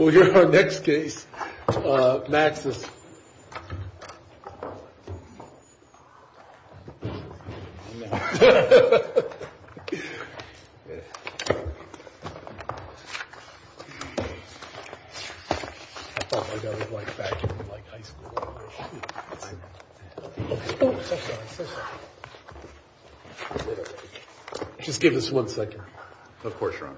We'll hear our next case, Maxus. Just give us one second. Of course, Ron.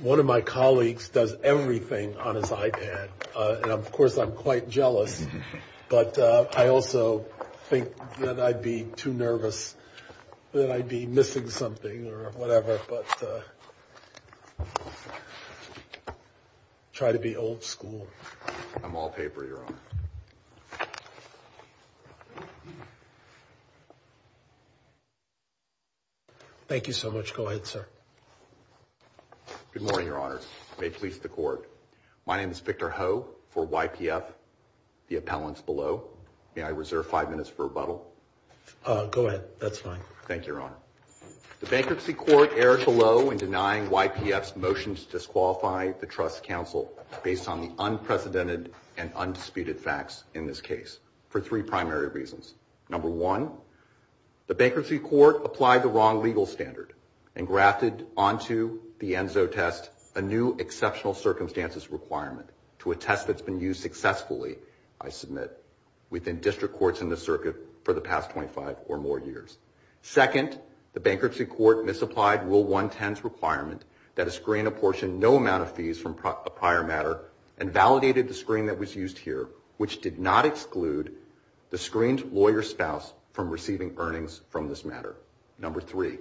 One of my colleagues does everything on his iPad, and of course I'm quite jealous, but I also think that I'd be too nervous that I'd be missing something or whatever, but try to be old school. I'm all paper, Your Honor. Thank you so much. Go ahead, sir. Good morning, Your Honor. May it please the court. My name is Victor Ho for YPF, the appellants below. May I reserve five minutes for rebuttal? Go ahead. That's fine. Thank you, Your Honor. The Bankruptcy Court erred below in denying YPF's motions to disqualify the Trust Council based on the unprecedented and undisputed facts in this case for three primary reasons. Number one, the Bankruptcy Court applied the wrong legal standard and grafted onto the ENZO test a new exceptional circumstances requirement to a test that's been used successfully, I submit, within district courts and the circuit for the past 25 or more years. Second, the Bankruptcy Court misapplied Rule 110's requirement that a screen apportioned no amount of fees from a prior matter and validated the screen that was used here, which did not exclude the screened lawyer's spouse from receiving earnings from this matter. Number three,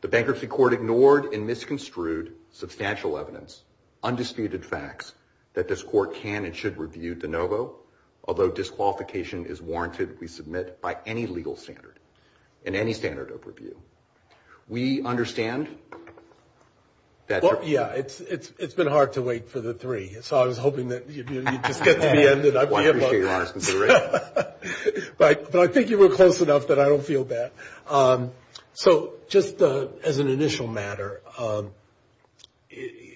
the Bankruptcy Court ignored and misconstrued substantial evidence, undisputed facts, that this court can and should review de novo, although disqualification is warranted, we submit, by any legal standard and any standard of review. We understand that... Well, yeah, it's been hard to wait for the three, so I was hoping that you'd just get to the end. Well, I appreciate your honesty. But I think you were close enough that I don't feel bad. So just as an initial matter,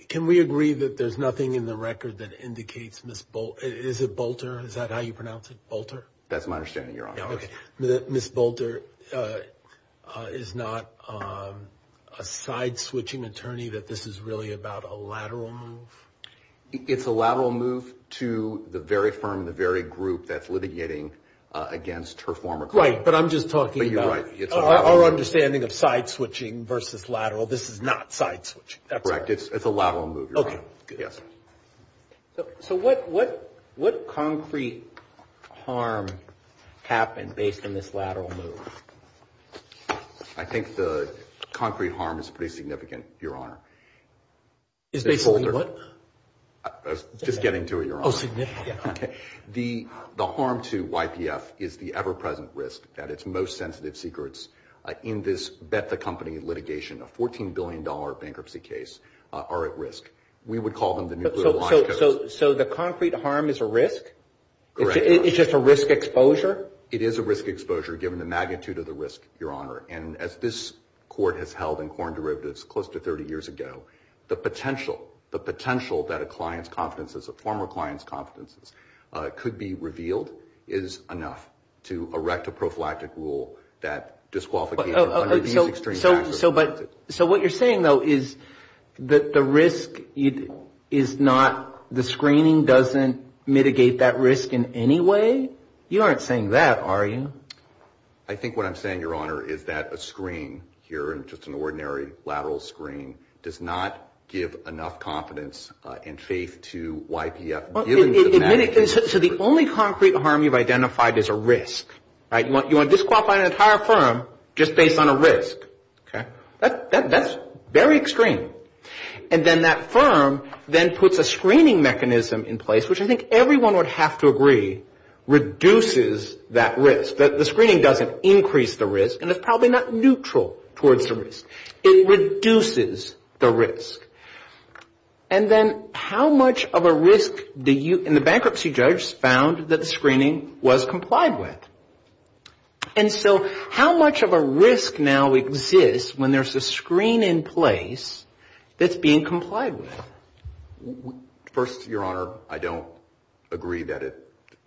can we agree that there's nothing in the record that indicates Ms. Bol... Is it Bolter, is that how you pronounce it, Bolter? That's my understanding, Your Honor. Okay, Ms. Bolter is not a side-switching attorney, that this is really about a lateral move? It's a lateral move to the very firm, the very group that's litigating against her former client. Right, but I'm just talking about our understanding of side-switching versus lateral. This is not side-switching. Correct, it's a lateral move, Your Honor. Okay, good. So what concrete harm happened based on this lateral move? I think the concrete harm is pretty significant, Your Honor. Is Ms. Bolter... Is they holding what? Just getting to it, Your Honor. Oh, significant, yeah. Okay, the harm to YPF is the ever-present risk at its most sensitive secrets. In this Betha Company litigation, a $14 billion bankruptcy case are at risk. We would call them the nuclear watchdog. So the concrete harm is a risk? Correct. It's just a risk exposure? It is a risk exposure, given the magnitude of the risk, Your Honor. And as this court has held in corn derivatives close to 30 years ago, the potential that a client's confidences, a former client's confidences, could be revealed is enough to erect a prophylactic rule that disqualification under these extreme factors. So what you're saying, though, is that the risk is not... the screening doesn't mitigate that risk in any way? You aren't saying that, are you? I think what I'm saying, Your Honor, is that a screen here, just an ordinary lateral screen, does not give enough confidence and faith to YPF. You want to disqualify an entire firm just based on a risk. That's very extreme. And then that firm then puts a screening mechanism in place, which I think everyone would have to agree reduces that risk. The screening doesn't increase the risk, and it's probably not neutral towards the risk. It reduces the risk. And then how much of a risk do you... and the bankruptcy judge found that the screening was complied with. And so how much of a risk now exists when there's a screen in place that's being complied with? First, Your Honor, I don't agree that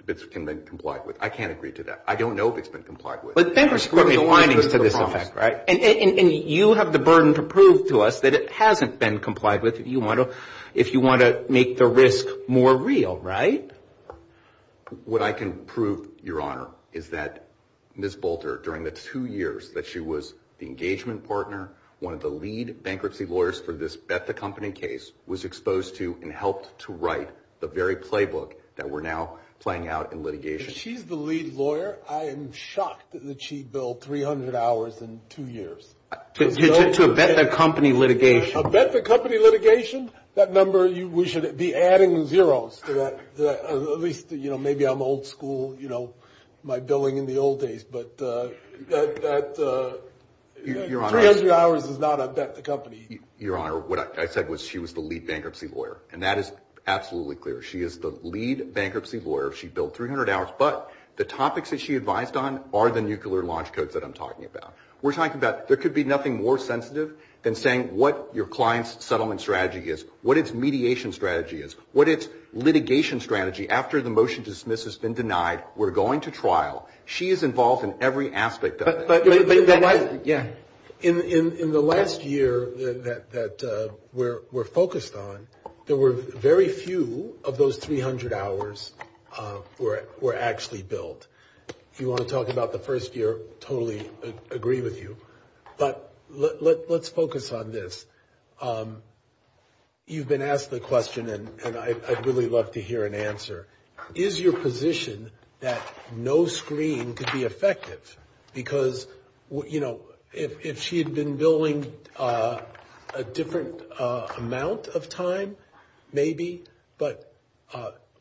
it's been complied with. I can't agree to that. I don't know if it's been complied with. But it's been for so many findings to this effect, right? And you have the burden to prove to us that it hasn't been complied with if you want to make the risk more real, right? What I can prove, Your Honor, is that Ms. Bolter, during the two years that she was the engagement partner, one of the lead bankruptcy lawyers for this Beth Accompany case, was exposed to and helped to write the very playbook that we're now playing out in litigation. She's the lead lawyer. I am shocked that she billed $300 in two years. To a Beth Accompany litigation. A Beth Accompany litigation, that number, we should be adding zeros to that. At least, you know, maybe I'm old school, you know, my billing in the old days. But $300 is not a Beth Accompany. Your Honor, what I said was she was the lead bankruptcy lawyer. And that is absolutely clear. She is the lead bankruptcy lawyer. She billed $300, but the topics that she advised on are the nuclear launch codes that I'm talking about. We're talking about there could be nothing more sensitive than saying what your client's settlement strategy is, what its mediation strategy is, what its litigation strategy is. After the motion to dismiss has been denied, we're going to trial. She is involved in every aspect of it. In the last year that we're focused on, there were very few of those 300 hours were actually billed. If you want to talk about the first year, totally agree with you. But let's focus on this. You've been asked the question, and I'd really love to hear an answer. Is your position that no screen could be effective? Because, you know, if she had been billing a different amount of time, maybe, but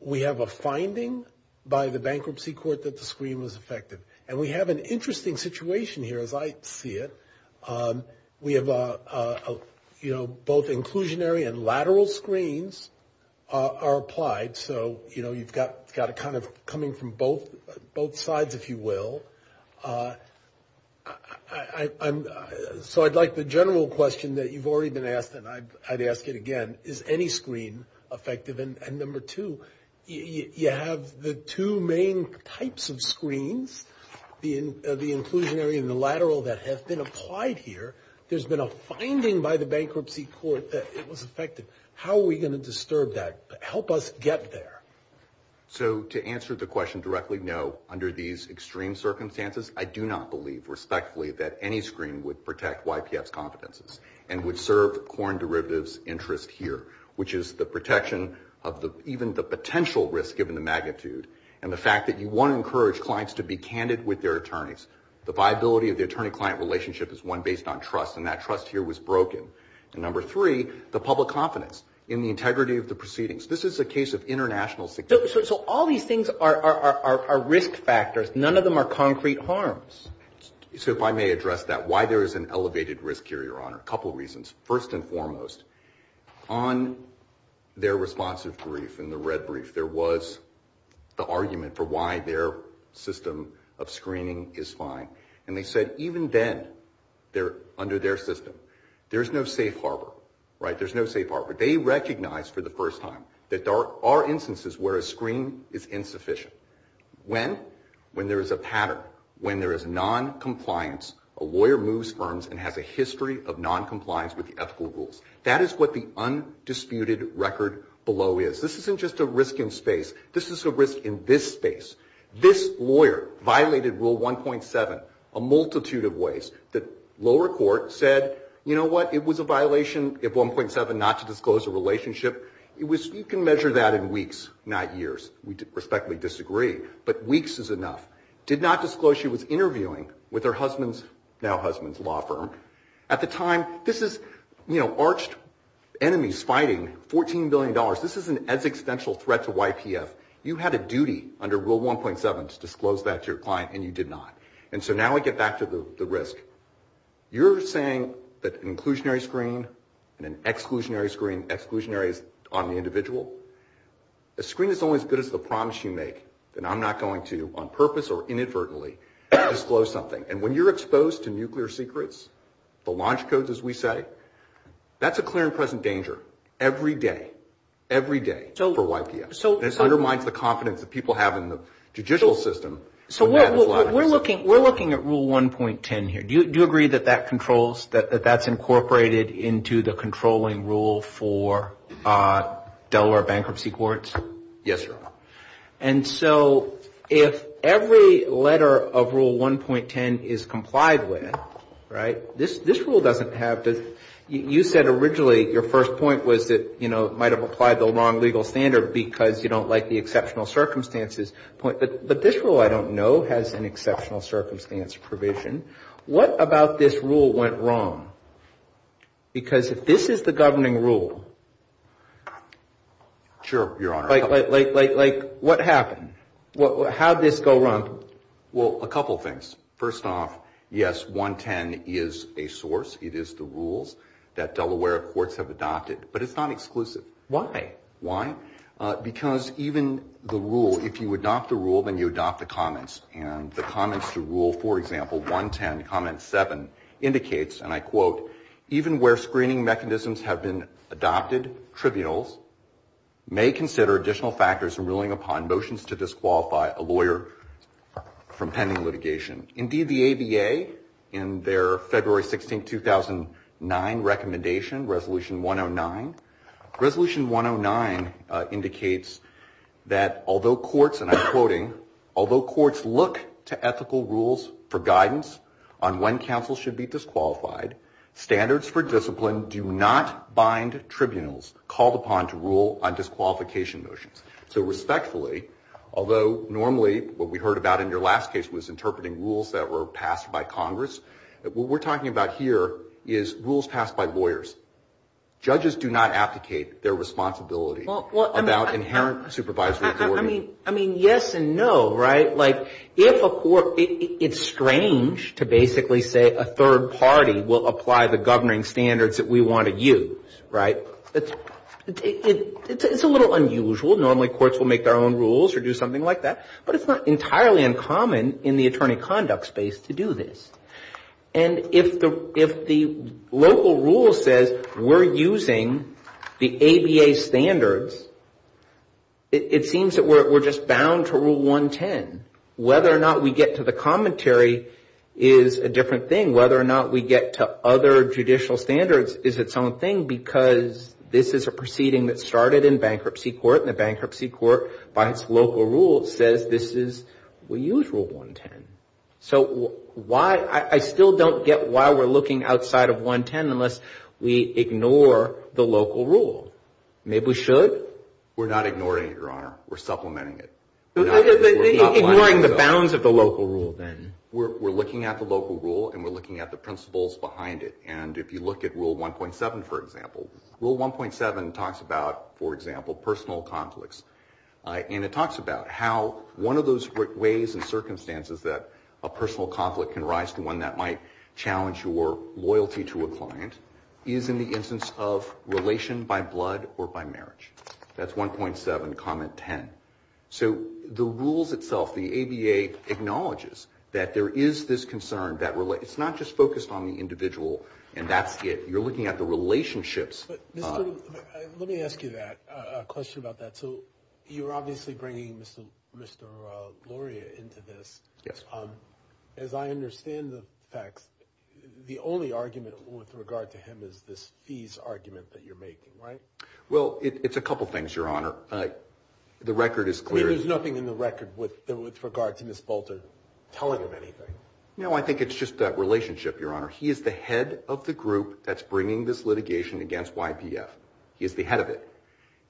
we have a finding by the bankruptcy court that the screen was effective. And we have an interesting situation here, as I see it. We have, you know, both inclusionary and lateral screens are applied. So, you know, you've got it kind of coming from both sides, if you will. So I'd like the general question that you've already been asked, and I'd ask it again. Is any screen effective? And number two, you have the two main types of screens, the inclusionary and the lateral, that have been applied here. There's been a finding by the bankruptcy court that it was effective. How are we going to disturb that? Help us get there. So to answer the question directly, no, under these extreme circumstances, I do not believe respectfully that any screen would protect YPS competencies and would serve Corn Derivative's interest here, which is the protection of even the potential risk given the magnitude and the fact that you want to encourage clients to be candid with their attorneys. The viability of the attorney-client relationship is one based on trust, and that trust here was broken. And number three, the public confidence in the integrity of the proceedings. This is a case of international security. So all these things are risk factors. None of them are concrete harms. So if I may address that, why there is an elevated risk here, Your Honor, a couple of reasons. First and foremost, on their responsive brief and the red brief, there was the argument for why their system of screening is fine. And they said even then, under their system, there's no safe harbor. There's no safe harbor. They recognized for the first time that there are instances where a screen is insufficient. When? When there is a pattern. When there is noncompliance, a lawyer moves firms and has a history of noncompliance with the ethical rules. That is what the undisputed record below is. This isn't just a risk in space. This is a risk in this space. This lawyer violated Rule 1.7 a multitude of ways. The lower court said, you know what, it was a violation of 1.7 not to disclose a relationship. You can measure that in weeks, not years. We respectfully disagree, but weeks is enough. Did not disclose she was interviewing with her husband's, now husband's, law firm. At the time, this is, you know, arched enemies fighting $14 billion. This is an existential threat to YPF. You had a duty under Rule 1.7 to disclose that to your client, and you did not. And so now we get back to the risk. You're saying that an inclusionary screen and an exclusionary screen, exclusionary is on the individual. A screen is only as good as the promise you make that I'm not going to, on purpose or inadvertently, disclose something. And when you're exposed to nuclear secrets, the launch codes as we say, that's a clear and present danger every day, every day for YPF. It undermines the confidence that people have in the judicial system. So we're looking at Rule 1.10 here. Do you agree that that controls, that that's incorporated into the controlling rule for dollar bankruptcy courts? Yes, sir. And so if every letter of Rule 1.10 is complied with, right, this rule doesn't have to, might have applied the wrong legal standard because you don't like the exceptional circumstances. But this rule I don't know has an exceptional circumstance provision. What about this rule went wrong? Because if this is the governing rule. Sure, Your Honor. Like what happened? How did this go wrong? Well, a couple things. First off, yes, 1.10 is a source. It is the rules that Delaware courts have adopted. But it's not exclusive. Why? Why? Because even the rule, if you adopt the rule, then you adopt the comments. And the comments to Rule, for example, 1.10, Comment 7, indicates, and I quote, even where screening mechanisms have been adopted, trivial, may consider additional factors in ruling upon motions to disqualify a lawyer from pending litigation. Indeed, the ABA, in their February 16, 2009 recommendation, Resolution 109, Resolution 109 indicates that although courts, and I'm quoting, although courts look to ethical rules for guidance on when counsel should be disqualified, standards for discipline do not bind tribunals called upon to rule on disqualification motions. So respectfully, although normally what we heard about in your last case was interpreting rules that were passed by Congress, what we're talking about here is rules passed by lawyers. Judges do not advocate their responsibility about inherent supervisory authority. I mean, yes and no, right? Like if a court, it's strange to basically say a third party will apply the governing standards that we want to use, right? It's a little unusual. Normally courts will make their own rules or do something like that, but it's not entirely uncommon in the attorney conduct space to do this. And if the local rule says we're using the ABA standards, it seems that we're just bound to Rule 110. Whether or not we get to the commentary is a different thing. Whether or not we get to other judicial standards is its own thing because this is a proceeding that started in bankruptcy court, and the bankruptcy court by its local rule says this is, we use Rule 110. So I still don't get why we're looking outside of 110 unless we ignore the local rule. Maybe we should? We're not ignoring it, Your Honor. We're supplementing it. Ignoring the bounds of the local rule then. We're looking at the local rule, and we're looking at the principles behind it. And if you look at Rule 1.7, for example, Rule 1.7 talks about, for example, personal conflicts. And it talks about how one of those ways and circumstances that a personal conflict can arise, the one that might challenge your loyalty to a client, is in the instance of relation by blood or by marriage. That's 1.7, Comment 10. So the rules itself, the ADA acknowledges that there is this concern. It's not just focused on the individual and that's it. You're looking at the relationships. Let me ask you a question about that. So you're obviously bringing Mr. Loria into this. As I understand the facts, the only argument with regard to him is this fees argument that you're making, right? Well, it's a couple things, Your Honor. The record is clear. There's nothing in the record with regard to Ms. Bolton telling him anything? No, I think it's just that relationship, Your Honor. He is the head of the group that's bringing this litigation against YPF. He is the head of it.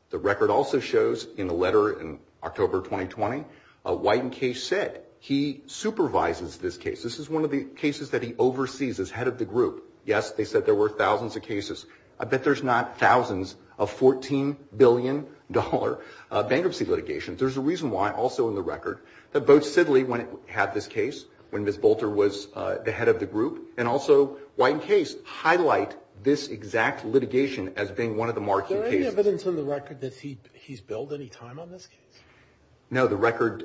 The record also shows in a letter in October 2020, White and Case said he supervises this case. This is one of the cases that he oversees as head of the group. Yes, they said there were thousands of cases. I bet there's not thousands of $14 billion bankruptcy litigations. There's a reason why also in the record that both Sibley had this case when Ms. Bolton was the head of the group and also White and Case highlight this exact litigation as being one of the marked cases. Is there any evidence in the record that he's billed any time on this case? No, the record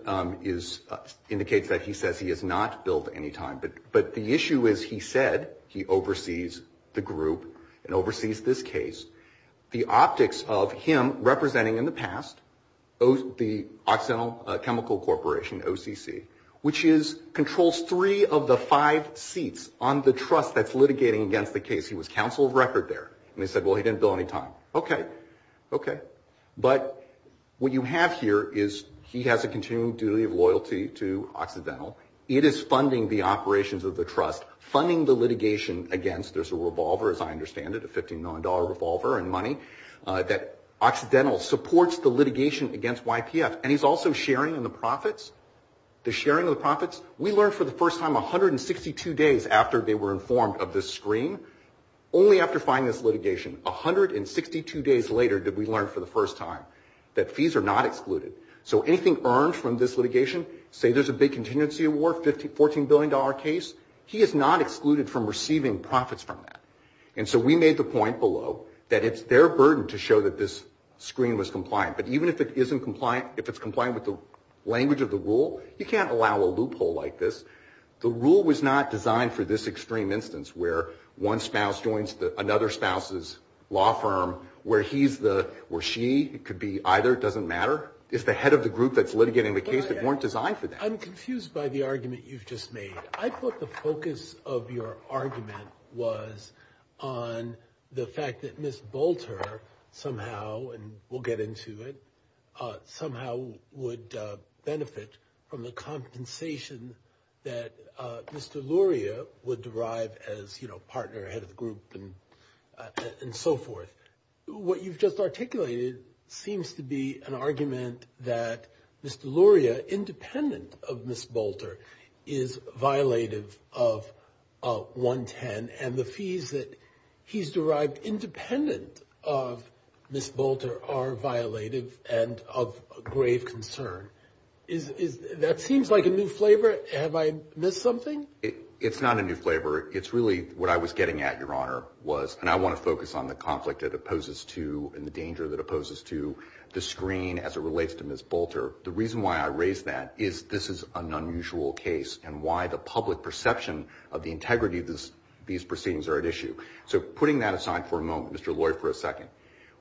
indicates that he says he has not billed any time. But the issue is he said he oversees the group and oversees this case. The optics of him representing in the past the Occidental Chemical Corporation, OCC, which controls three of the five seats on the trust that's litigating against the case. He was counsel of record there, and they said, well, he didn't bill any time. Okay, okay. But what you have here is he has a continuing duty of loyalty to Occidental. It is funding the operations of the trust, funding the litigation against. There's a revolver, as I understand it, a $15 million revolver and money that Occidental supports the litigation against YPF. And he's also sharing in the profits, the sharing of the profits. We learned for the first time 162 days after they were informed of this screen, only after filing this litigation, 162 days later did we learn for the first time that fees are not excluded. So anything earned from this litigation, say there's a big contingency award, $14 billion case, he is not excluded from receiving profits from that. And so we made the point below that it's their burden to show that this screen was compliant. But even if it isn't compliant, if it's compliant with the language of the rule, you can't allow a loophole like this. The rule was not designed for this extreme instance where one spouse joins another spouse's law firm, where he's the, where she could be either, it doesn't matter. If the head of the group that's litigating the case, it weren't designed for that. I'm confused by the argument you've just made. I thought the focus of your argument was on the fact that Ms. Bolter somehow, and we'll get into it, somehow would benefit from the compensation that Mr. Luria would derive as, you know, partner, head of the group, and so forth. What you've just articulated seems to be an argument that Mr. Luria, independent of Ms. Bolter, is violative of 110, and the fees that he's derived independent of Ms. Bolter are violative and of grave concern. That seems like a new flavor. Have I missed something? It's not a new flavor. It's really what I was getting at, Your Honor, was, and I want to focus on the conflict that it poses to and the danger that it poses to the screen as it relates to Ms. Bolter. The reason why I raise that is this is an unusual case and why the public perception of the integrity of these proceedings are at issue. So putting that aside for a moment, Mr. Luria, for a second,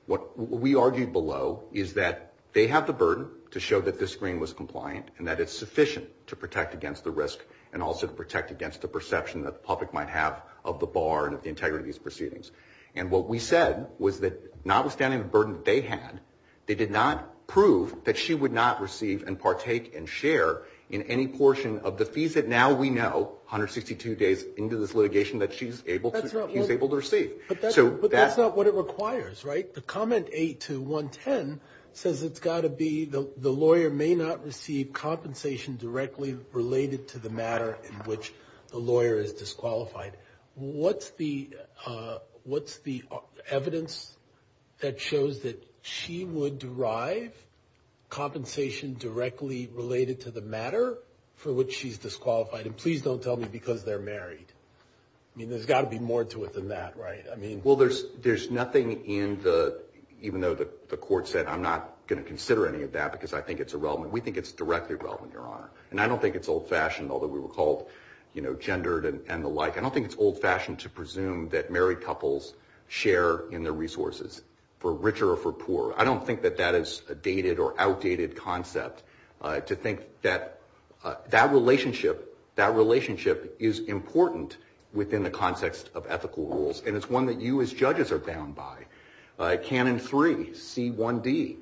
what we argued below is that they have the burden to show that this screen was compliant and that it's sufficient to protect against the risk and also to protect against the perception that the public might have of the bar and of the integrity of these proceedings. And what we said was that notwithstanding the burden they had, they did not prove that she would not receive and partake and share in any portion of the fees that now we know, 162 days into this litigation, that she's able to receive. But that's not what it requires, right? The comment 82110 says it's got to be the lawyer may not receive compensation directly related to the matter in which the lawyer is disqualified. What's the what's the evidence that shows that she would derive compensation directly related to the matter for which she's disqualified? And please don't tell me because they're married. You know, there's got to be more to it than that, right? I mean, well, there's there's nothing in the even though the court said I'm not going to consider any of that because I think it's irrelevant. We think it's directly relevant, Your Honor. And I don't think it's old fashioned, although we were called, you know, gendered and the like. I don't think it's old fashioned to presume that married couples share in the resources for richer or for poorer. I don't think that that is a dated or outdated concept to think that that relationship, that relationship is important within the context of ethical rules. And it's one that you as judges are bound by. Canon three, C1D.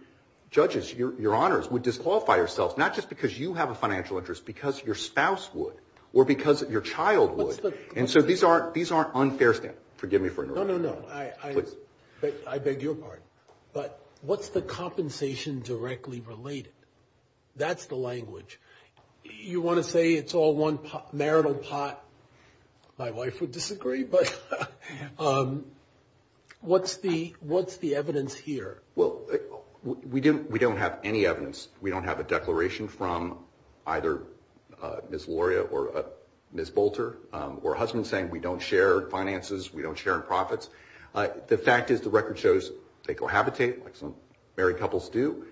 Judges, Your Honors, would disqualify ourselves not just because you have a financial interest, because your spouse would or because your child would. And so these are these are unfair. Forgive me for. No, no, no. I beg your pardon. But what's the compensation directly related? That's the language you want to say. It's all one marital pot. My wife would disagree. But what's the what's the evidence here? Well, we didn't we don't have any evidence. We don't have a declaration from either Miss Luria or Miss Bolter or husband saying we don't share finances. We don't share profits. The fact is, the record shows they cohabitate. Married couples do.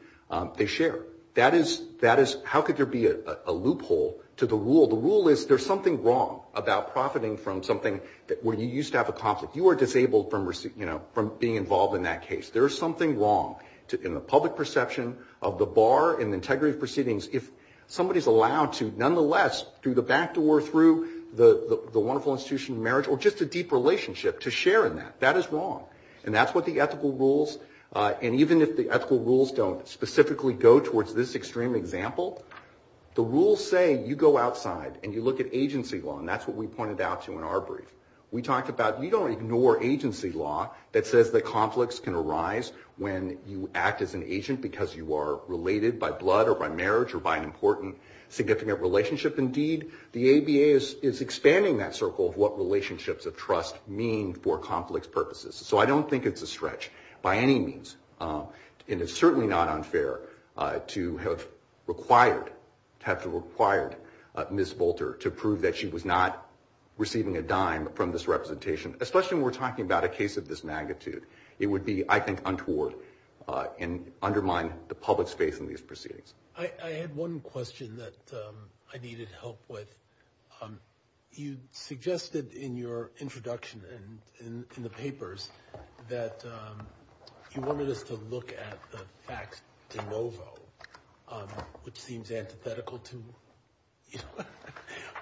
They share. That is that is how could there be a loophole to the rule? The rule is there's something wrong about profiting from something where you used to have a conflict. You are disabled from, you know, from being involved in that case. There is something wrong in the public perception of the bar and integrity proceedings. If somebody is allowed to, nonetheless, through the back door, through the wonderful institution of marriage or just a deep relationship to share in that, that is wrong. And that's what the ethical rules. And even if the ethical rules don't specifically go towards this extreme example, the rules say you go outside and you look at agency law. And that's what we pointed out to in our brief. We talked about we don't ignore agency law that says that conflicts can arise when you act as an agent because you are related by blood or by marriage or by an important significant relationship. Indeed, the ABA is expanding that circle of what relationships of trust mean for conflicts purposes. So I don't think it's a stretch by any means. And it's certainly not unfair to have required, to have required Ms. Bolter to prove that she was not receiving a dime from this representation, especially when we're talking about a case of this magnitude. It would be, I think, untoward and undermine the public space in these proceedings. I had one question that I needed help with. You suggested in your introduction in the papers that you wanted us to look at the facts de novo, which seems antithetical to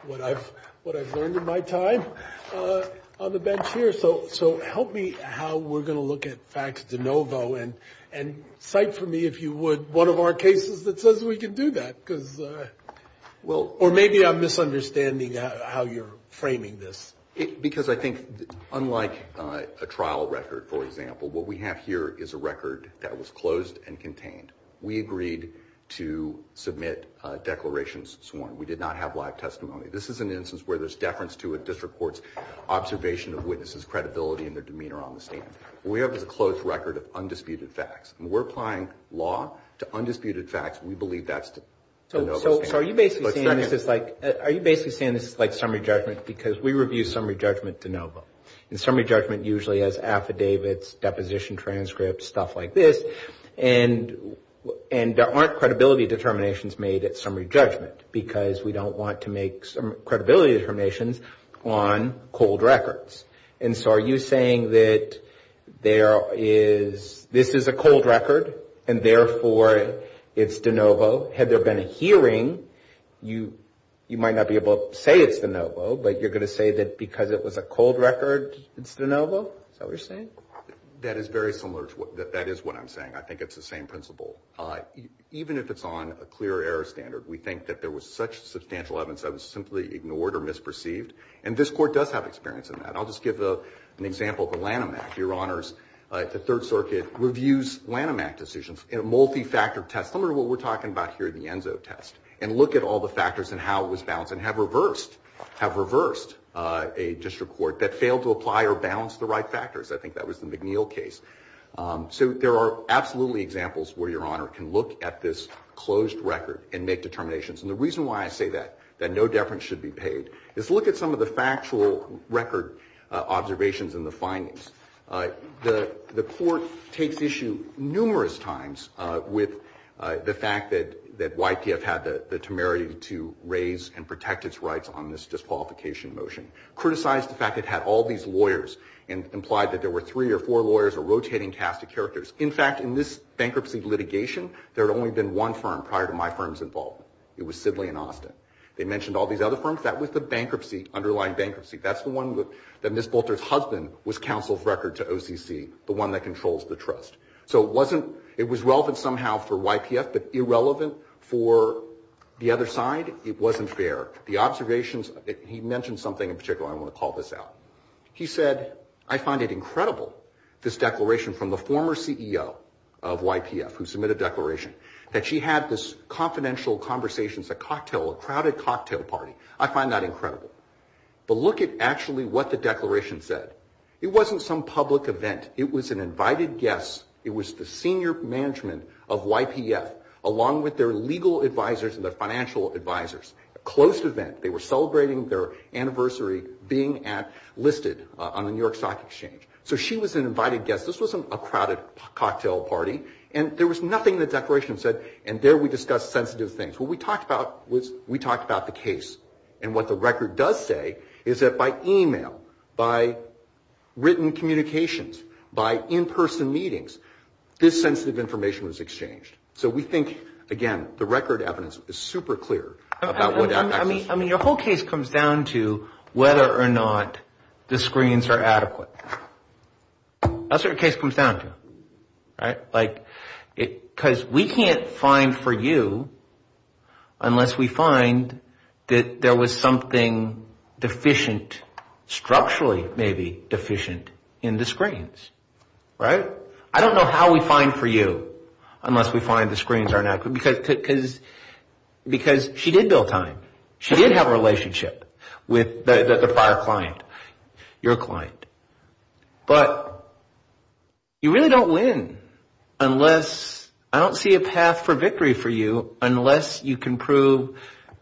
what I've learned in my time on the bench here. So help me how we're going to look at facts de novo. And cite for me, if you would, one of our cases that says we can do that. Or maybe I'm misunderstanding how you're framing this. Because I think unlike a trial record, for example, what we have here is a record that was closed and contained. We agreed to submit declarations sworn. We did not have live testimony. This is an instance where there's deference to a district court's observation of witnesses' credibility and their demeanor on the stand. We have a closed record of undisputed facts. When we're applying law to undisputed facts, we believe that's de novo. So are you basically saying this is like summary judgment? Because we review summary judgment de novo. And summary judgment usually has affidavits, deposition transcripts, stuff like this. And there aren't credibility determinations made at summary judgment. Because we don't want to make some credibility determinations on cold records. And so are you saying that this is a cold record, and therefore it's de novo? Had there been a hearing, you might not be able to say it's de novo. But you're going to say that because it was a cold record, it's de novo? Is that what you're saying? That is very similar. That is what I'm saying. I think it's the same principle. Even if it's on a clear error standard, we think that there was such substantial evidence that was simply ignored or misperceived. And this court does have experience in that. I'll just give an example of the Lanham Act, Your Honors. The Third Circuit reviews Lanham Act decisions in a multi-factor test, similar to what we're talking about here in the ENSO test, and look at all the factors and how it was balanced and have reversed a district court that failed to apply or balance the right factors. I think that was the McNeil case. So there are absolutely examples where Your Honor can look at this closed record and make determinations. And the reason why I say that, that no deference should be paid, is look at some of the factual record observations in the findings. The court takes issue numerous times with the fact that YTF had the temerity to raise and protect its rights on this disqualification motion, criticized the fact it had all these lawyers and implied that there were three or four lawyers or rotating cast of characters. In fact, in this bankruptcy litigation, there had only been one firm prior to my firm's involvement. It was Sibley and Austin. They mentioned all these other firms. That was the bankruptcy, underlying bankruptcy. That's the one that Ms. Bolter's husband was counsel's record to OCC, the one that controls the trust. So it was relevant somehow for YTF, but irrelevant for the other side, it wasn't fair. He mentioned something in particular I want to call this out. He said, I find it incredible, this declaration from the former CEO of YTF who submitted the declaration, that she had this confidential conversation, a cocktail, a crowded cocktail party. I find that incredible. But look at actually what the declaration said. It wasn't some public event. It was an invited guest. It was the senior management of YTF, along with their legal advisors and their financial advisors. A close event. They were celebrating their anniversary being listed on the New York Stock Exchange. So she was an invited guest. This wasn't a crowded cocktail party. And there was nothing in the declaration that said, and there we discussed sensitive things. What we talked about was we talked about the case. And what the record does say is that by e-mail, by written communications, by in-person meetings, this sensitive information was exchanged. So we think, again, the record evidence is super clear. I mean, your whole case comes down to whether or not the screens are adequate. That's what your case comes down to. Because we can't find for you unless we find that there was something deficient, structurally maybe deficient, in the screens. I don't know how we find for you unless we find the screens are not good. Because she did build time. She did have a relationship with the prior client, your client. But you really don't win unless, I don't see a path for victory for you, unless you can prove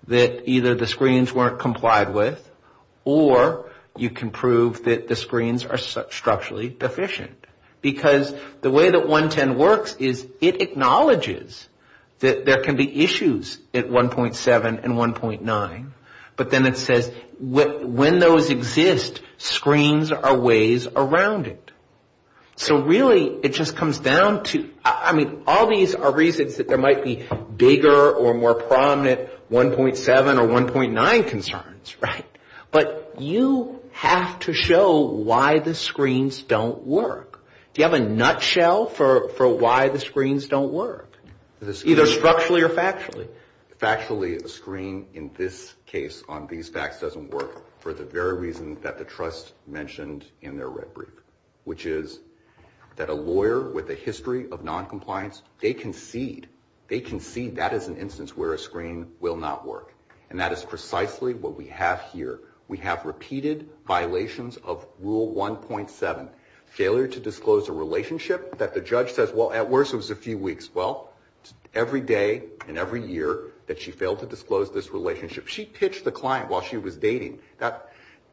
that either the screens weren't complied with, or you can prove that the screens are structurally deficient. Because the way that 110 works is it acknowledges that there can be issues at 1.7 and 1.9. But then it says when those exist, screens are ways around it. So really, it just comes down to, I mean, all these are reasons that there might be bigger or more prominent 1.7 or 1.9 concerns, right? But you have to show why the screens don't work. Do you have a nutshell for why the screens don't work, either structurally or factually? Factually, a screen in this case on these facts doesn't work for the very reason that the trust mentioned in their red brief, which is that a lawyer with a history of noncompliance, they concede that is an instance where a screen will not work. And that is precisely what we have here. We have repeated violations of Rule 1.7. Failure to disclose a relationship that the judge says, well, at worst it was a few weeks. Well, every day and every year that she failed to disclose this relationship. She pitched the client while she was dating,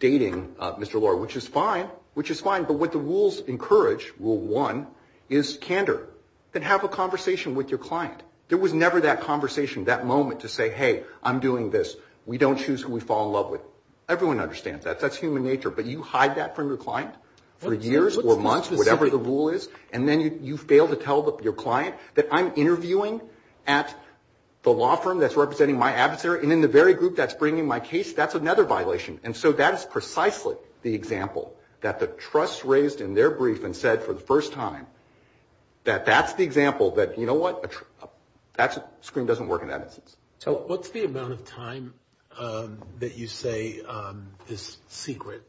dating Mr. Lawyer, which is fine, which is fine. But what the rules encourage, Rule 1, is candor. Then have a conversation with your client. There was never that conversation, that moment to say, hey, I'm doing this. We don't choose who we fall in love with. Everyone understands that. That's human nature. But you hide that from your client for years or months, whatever the rule is, and then you fail to tell your client that I'm interviewing at the law firm that's representing my adversary, and in the very group that's bringing my case, that's another violation. And so that is precisely the example that the trust raised in their brief and said for the first time that that's the example that, you know what, that screen doesn't work in that instance. What's the amount of time that you say this secret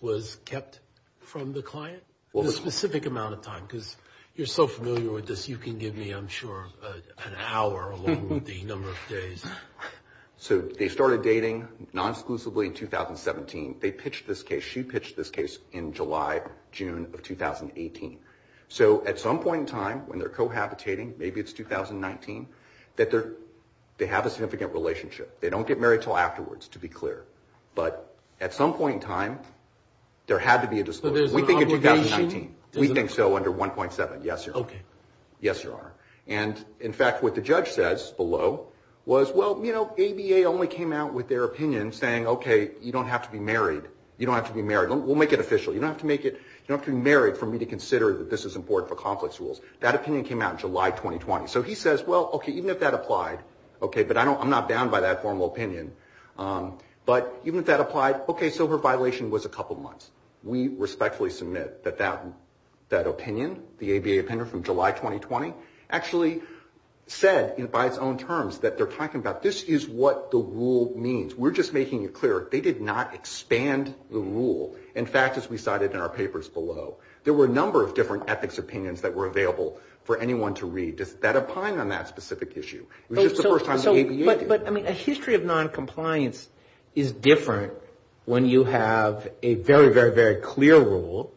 was kept from the client? The specific amount of time, because you're so familiar with this, you can give me, I'm sure, an hour along with the number of days. So they started dating non-exclusively in 2017. They pitched this case. She pitched this case in July, June of 2018. So at some point in time, when they're cohabitating, maybe it's 2019, that they have a significant relationship. They don't get married until afterwards, to be clear. But at some point in time, there had to be a discussion. So there's no obligation? We think so, under 1.7. Yes, Your Honor. Okay. Yes, Your Honor. And, in fact, what the judge says below was, well, you know, ABA only came out with their opinion saying, okay, you don't have to be married. You don't have to be married. We'll make it official. You don't have to be married for me to consider that this is important for conflicts rules. That opinion came out in July 2020. So he says, well, okay, even if that applied, okay, but I'm not bound by that formal opinion. But even if that applied, okay, so her violation was a couple months. We respectfully submit that that opinion, the ABA opinion from July 2020, actually said by its own terms that they're talking about this is what the rule means. We're just making it clear they did not expand the rule. In fact, as we cited in our papers below, there were a number of different ethics opinions that were available for anyone to read that opine on that specific issue. It was just the first time the ABA did. But a history of noncompliance is different when you have a very, very, very clear rule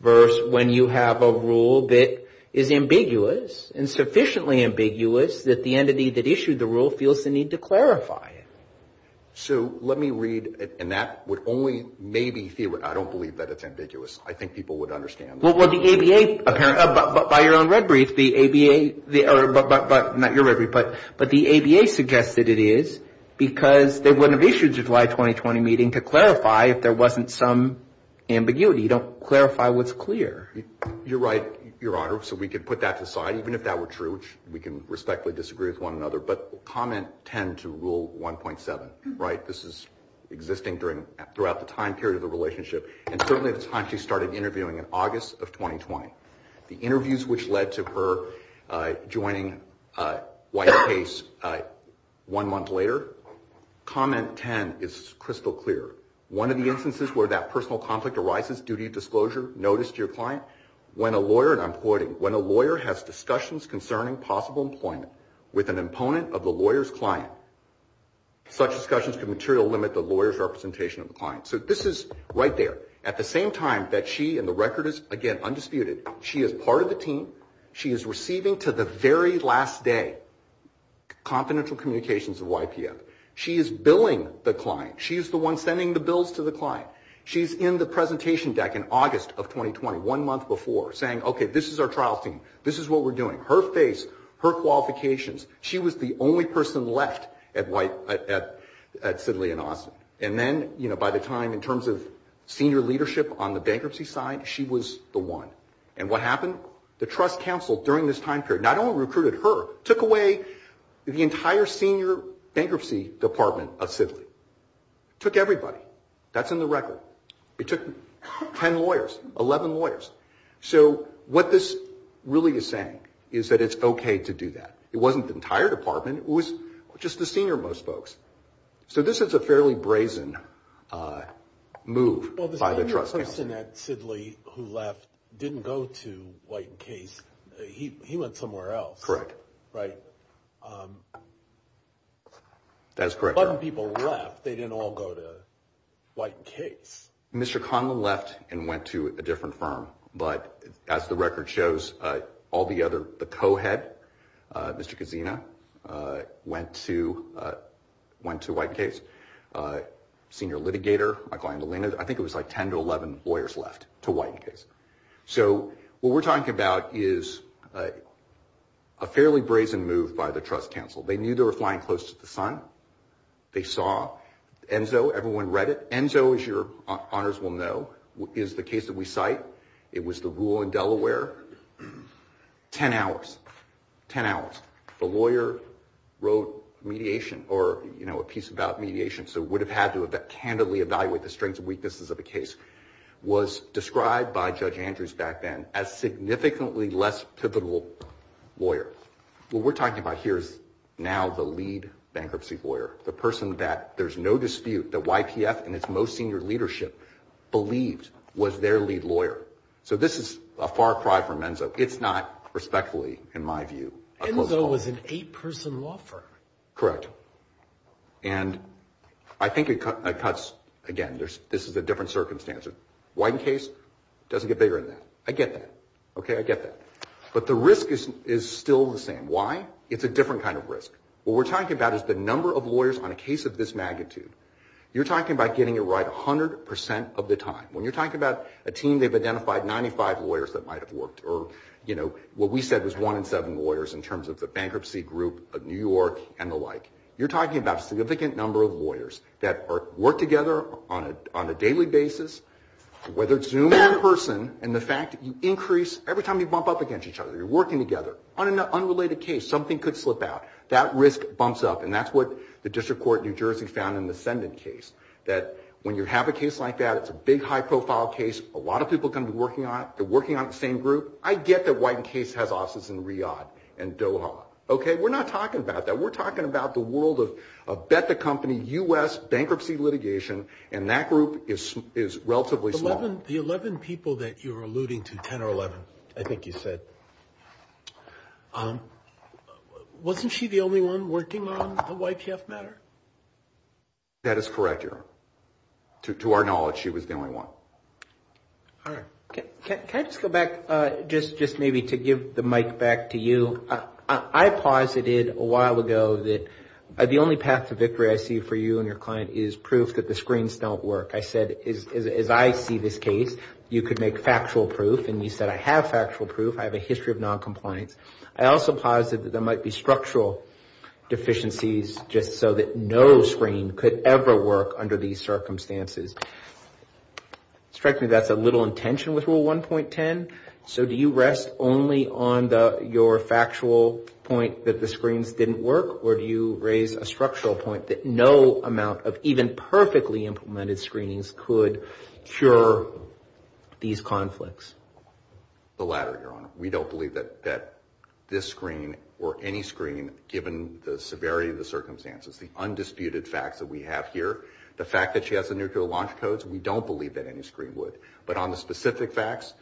versus when you have a rule that is ambiguous and sufficiently ambiguous that the entity that issued the rule feels the need to clarify it. So let me read, and that would only maybe see, I don't believe that it's ambiguous. I think people would understand. Well, the ABA, by your own reveries, the ABA, not your reveries, but the ABA suggested it is because they wouldn't have issued a July 2020 meeting to clarify if there wasn't some ambiguity. You don't clarify what's clear. You're right, Your Honor. So we could put that aside, even if that were true, which we can respectfully disagree with one another. But comment 10 to Rule 1.7, right? This is existing throughout the time period of the relationship. And certainly the time she started interviewing in August of 2020. The interviews which led to her joining White Case one month later. Comment 10 is crystal clear. One of the instances where that personal conflict arises, duty of disclosure, notice to your client, when a lawyer, and I'm quoting, when a lawyer has discussions concerning possible employment with an opponent of the lawyer's client, such discussions can material limit the lawyer's representation of the client. So this is right there. At the same time that she, and the record is, again, undisputed, she is part of the team, she is receiving to the very last day confidential communications of YPM. She is billing the client. She is the one sending the bills to the client. She's in the presentation deck in August of 2020, one month before, saying, okay, this is our trial scene. This is what we're doing. Her face, her qualifications. She was the only person left at Sidley & Austin. And then, you know, by the time, in terms of senior leadership on the bankruptcy side, she was the one. And what happened? The trust canceled during this time period. Not only recruited her, took away the entire senior bankruptcy department of Sidley. Took everybody. That's in the record. It took 10 lawyers, 11 lawyers. So what this really is saying is that it's okay to do that. It wasn't the entire department, it was just the senior most folks. So this is a fairly brazen move by the trust. Well, the senior person at Sidley who left didn't go to White & Case. He went somewhere else. Correct. Right? That's correct. A bunch of people left. They didn't all go to White & Case. Mr. Conlon left and went to a different firm. But as the record shows, all the other, the co-head, Mr. Kazina, went to White & Case. Senior litigator, I think it was like 10 to 11 lawyers left to White & Case. So what we're talking about is a fairly brazen move by the trust counsel. They knew they were flying close to the sun. They saw ENSO, everyone read it. ENSO, as your honors will know, is the case that we cite. It was the rule in Delaware. 10 hours. 10 hours. The lawyer wrote mediation or, you know, a piece about mediation, so would have had to candidly evaluate the strengths and weaknesses of the case, was described by Judge Andrews back then as significantly less typical lawyer. What we're talking about here is now the lead bankruptcy lawyer, the person that there's no dispute that YPF and its most senior leadership believed was their lead lawyer. So this is a far cry from ENSO. It's not respectfully, in my view. ENSO was an eight-person law firm. Correct. And I think it cuts, again, this is a different circumstance. White & Case doesn't get bigger than that. I get that. Okay, I get that. But the risk is still the same. Why? It's a different kind of risk. What we're talking about is the number of lawyers on a case of this magnitude. You're talking about getting it right 100% of the time. When you're talking about a team, they've identified 95 lawyers that might have worked or, you know, what we said was one in seven lawyers in terms of the bankruptcy group of New York and the like. You're talking about a significant number of lawyers that work together on a daily basis, whether it's Zoom or in person, and the fact that you increase every time you bump up against each other, you're working together. On an unrelated case, something could slip out. That risk bumps up. And that's what the District Court of New Jersey found in the Sennett case, that when you have a case like that, it's a big, high-profile case. A lot of people are going to be working on it. They're working on the same group. I get that Wyden Case has offices in Riyadh and Doha. Okay? We're not talking about that. We're talking about the world of Betha Company, U.S. bankruptcy litigation, and that group is relatively small. The 11 people that you're alluding to, 10 or 11, I think you said, wasn't she the only one working on the YTF matter? That is correct, your Honor. To our knowledge, she was the only one. All right. Can I just go back just maybe to give the mic back to you? I posited a while ago that the only path to victory I see for you and your client is proof that the screens don't work. I said, as I see this case, you could make factual proof. And you said, I have factual proof. I have a history of noncompliance. I also posited that there might be structural deficiencies just so that no screen could ever work under these circumstances. It strikes me that's a little intention with Rule 1.10. So do you rest only on your factual point that the screens didn't work, or do you raise a structural point that no amount of even perfectly implemented screenings could cure these conflicts? The latter, your Honor. We don't believe that this screening or any screening, given the severity of the circumstances, the undisputed fact that we have here, the fact that she has the nuclear launch codes, we don't believe that any screen would. But on the specific facts,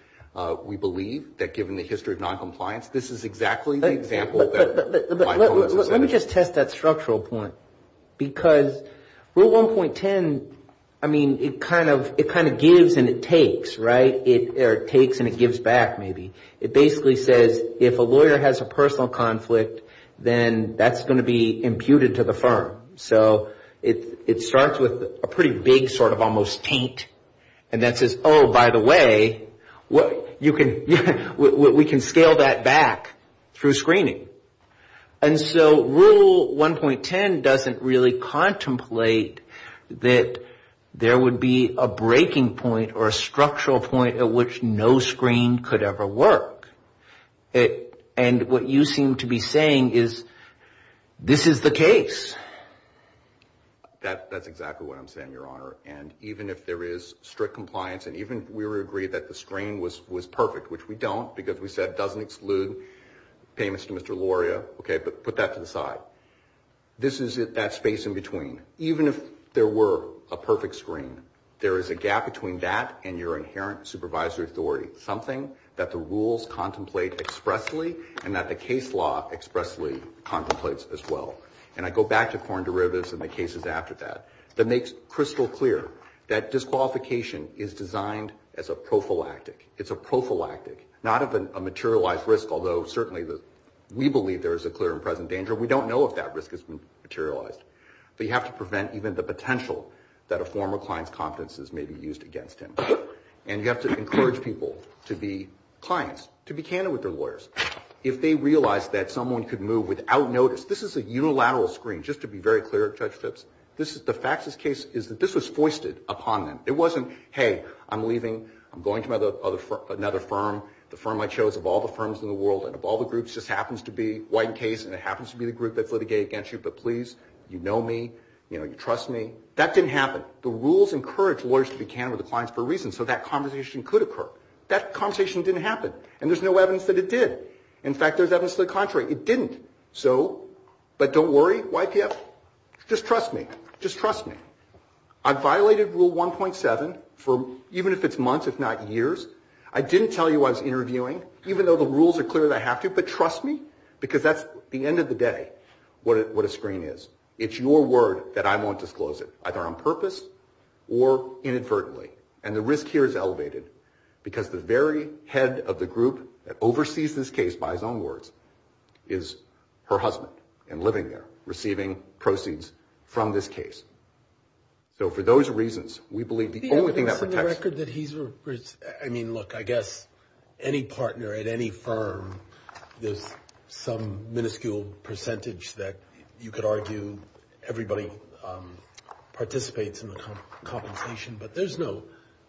we believe that given the history of noncompliance, this is exactly the example. Let me just test that structural point. Because Rule 1.10, I mean, it kind of gives and it takes, right? Or it takes and it gives back maybe. It basically says if a lawyer has a personal conflict, then that's going to be imputed to the firm. So it starts with a pretty big sort of almost taint. And that says, oh, by the way, we can scale that back through screening. And so Rule 1.10 doesn't really contemplate that there would be a breaking point or a structural point at which no screen could ever work. And what you seem to be saying is this is the case. That's exactly what I'm saying, Your Honor. And even if there is strict compliance and even if we were to agree that the screen was perfect, which we don't because we said it doesn't exclude payments to Mr. Loria, okay, but put that to the side. This is that space in between. Even if there were a perfect screen, there is a gap between that and your inherent supervisory authority, something that the rules contemplate expressly and that the case law expressly contemplates as well. And I go back to foreign derivatives and the cases after that. That makes crystal clear that disqualification is designed as a prophylactic. It's a prophylactic, not of a materialized risk, although certainly we believe there is a clear and present danger. We don't know if that risk has been materialized. But you have to prevent even the potential that a former client's confidence is maybe used against him. And you have to encourage people to be clients, to be candid with their lawyers. If they realize that someone could move without notice, this is a unilateral screen, just to be very clear, Judge Phipps. The fact of this case is that this was foisted upon them. It wasn't, hey, I'm leaving, I'm going to another firm, the firm I chose of all the firms in the world and of all the groups just happens to be White & Case and it happens to be the group that litigated against you, but please, you know me, you trust me. That didn't happen. The rules encourage lawyers to be candid with the clients for a reason, so that conversation could occur. That conversation didn't happen, and there's no evidence that it did. In fact, there's evidence to the contrary, it didn't. So, but don't worry, YPS, just trust me, just trust me. I violated Rule 1.7 for even if it's months, if not years. I didn't tell you I was interviewing, even though the rules are clear that I have to, but trust me, because that's the end of the day, what a screen is. It's your word that I'm going to disclose it, either on purpose or inadvertently, and the risk here is elevated because the very head of the group that oversees this case by his own words is her husband and living there, receiving proceeds from this case. So for those reasons, we believe the only thing that protects… Yeah, but given the record that he's… I mean, look, I guess any partner at any firm, there's some minuscule percentage that you could argue everybody participates in the compensation, but there's no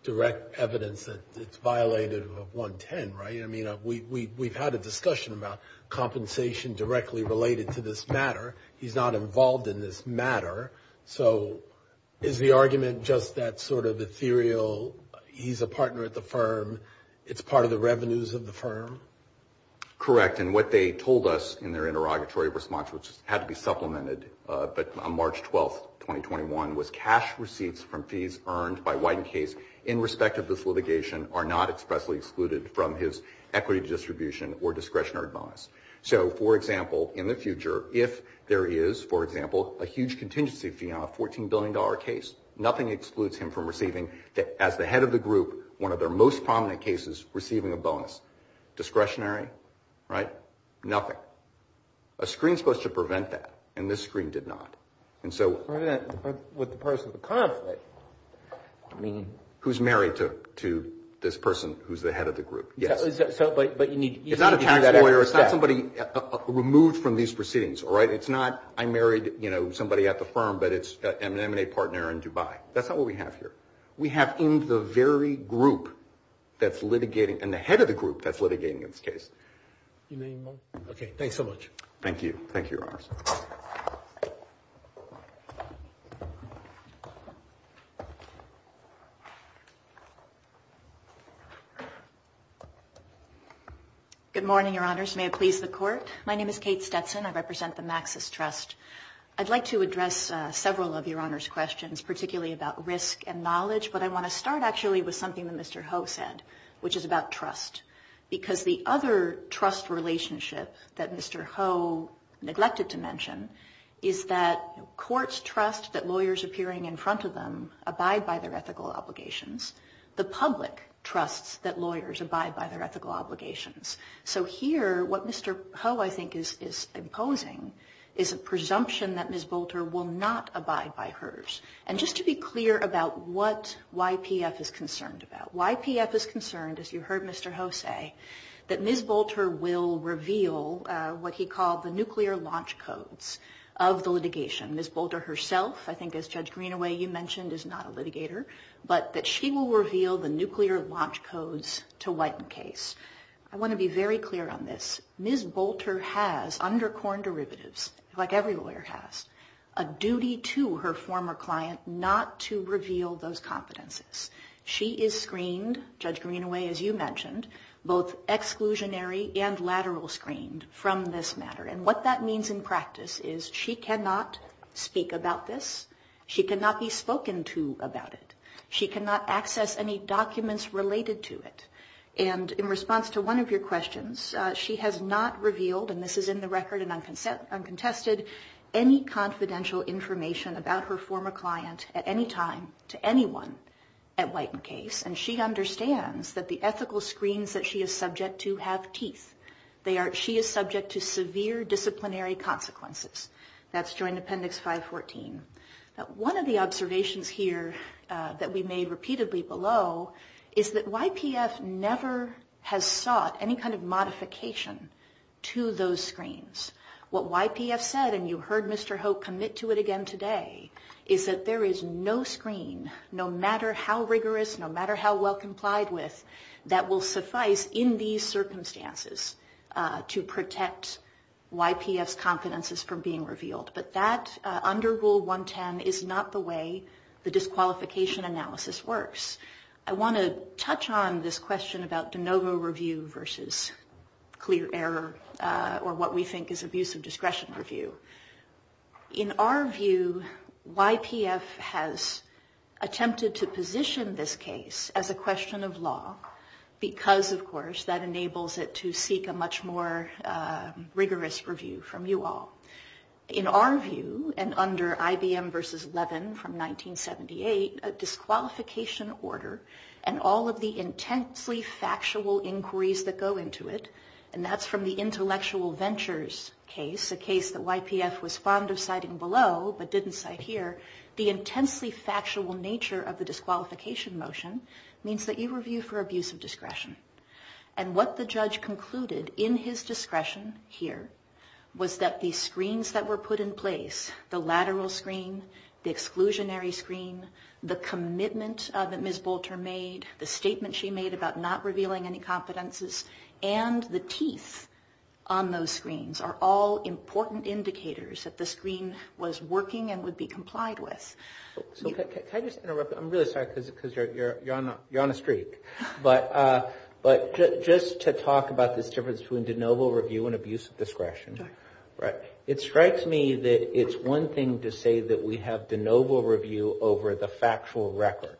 direct evidence that it's violated of 1.10, right? I mean, we've had a discussion about compensation directly related to this matter. He's not involved in this matter. So is the argument just that sort of ethereal, he's a partner at the firm, it's part of the revenues of the firm? Correct, and what they told us in their interrogatory response, which had to be supplemented on March 12, 2021, was cash receipts from fees earned by White and Case in respect of this litigation are not expressly excluded from his equity distribution or discretionary bonus. So, for example, in the future, if there is, for example, a huge contingency fee on a $14 billion case, nothing excludes him from receiving, as the head of the group, one of their most prominent cases, receiving a bonus. Discretionary, right? Nothing. A screen is supposed to prevent that, and this screen did not. And so... With the person of the conflict. I mean, who's married to this person who's the head of the group. But you need... It's not a tax lawyer, it's not somebody removed from these proceedings, all right? It's not, I married, you know, somebody at the firm, but it's an M&A partner in Dubai. That's not what we have here. We have in the very group that's litigating, and the head of the group that's litigating this case. Do you have any more? Okay, thanks so much. Thank you. Thank you, Your Honors. Good morning, Your Honors. May it please the Court. My name is Kate Stetson. I represent the Maxis Trust. I'd like to address several of Your Honors' questions, particularly about risk and knowledge, but I want to start actually with something that Mr. Ho said, which is about trust. Because the other trust relationship that Mr. Ho neglected to mention is that courts trust that lawyers appearing in front of them abide by their ethical obligations. The public trusts that lawyers abide by their ethical obligations. So here, what Mr. Ho, I think, is imposing is a presumption that Ms. Bolter will not abide by hers. And just to be clear about what YPF is concerned about. YPF is concerned, as you heard Mr. Ho say, that Ms. Bolter will reveal what he called the nuclear launch codes of the litigation. Ms. Bolter herself, I think as Judge Greenaway, you mentioned, is not a litigator, but that she will reveal the nuclear launch codes to whiten the case. I want to be very clear on this. Ms. Bolter has, under Corn Derivatives, like every lawyer has, a duty to her former client not to reveal those confidences. She is screened, Judge Greenaway, as you mentioned, both exclusionary and lateral screened from this matter. And what that means in practice is she cannot speak about this. She cannot be spoken to about it. She cannot access any documents related to it. And in response to one of your questions, she has not revealed, and this is in the record and uncontested, any confidential information about her former client at any time to anyone at whiten the case. And she understands that the ethical screens that she is subject to have teeth. She is subject to severe disciplinary consequences. That's joined Appendix 514. One of the observations here that we made repeatedly below is that YPF never has sought any kind of modification to those screens. What YPF said, and you heard Mr. Hope commit to it again today, is that there is no screen, no matter how rigorous, no matter how well complied with, that will suffice in these circumstances to protect YPF's confidences from being revealed. But that, under Rule 110, is not the way the disqualification analysis works. I want to touch on this question about de novo review versus clear error or what we think is abuse of discretion review. In our view, YPF has attempted to position this case as a question of law because, of course, that enables it to seek a much more rigorous review from you all. In our view, and under IBM versus Levin from 1978, the disqualification order and all of the intensely factual inquiries that go into it, and that's from the intellectual ventures case, a case that YPF was fond of citing below but didn't cite here, the intensely factual nature of the disqualification motion means that you review for abuse of discretion. What the judge concluded in his discretion here was that the screens that were put in place, the lateral screen, the exclusionary screen, the commitment that Ms. Bolter made, the statement she made about not revealing any confidences, and the teeth on those screens are all important indicators that the screen was working and would be complied with. Can I just interrupt? I'm really sorry because you're on a streak. and abuse of discretion. It strikes me that it's one thing to say that we have de novo review over the factual record.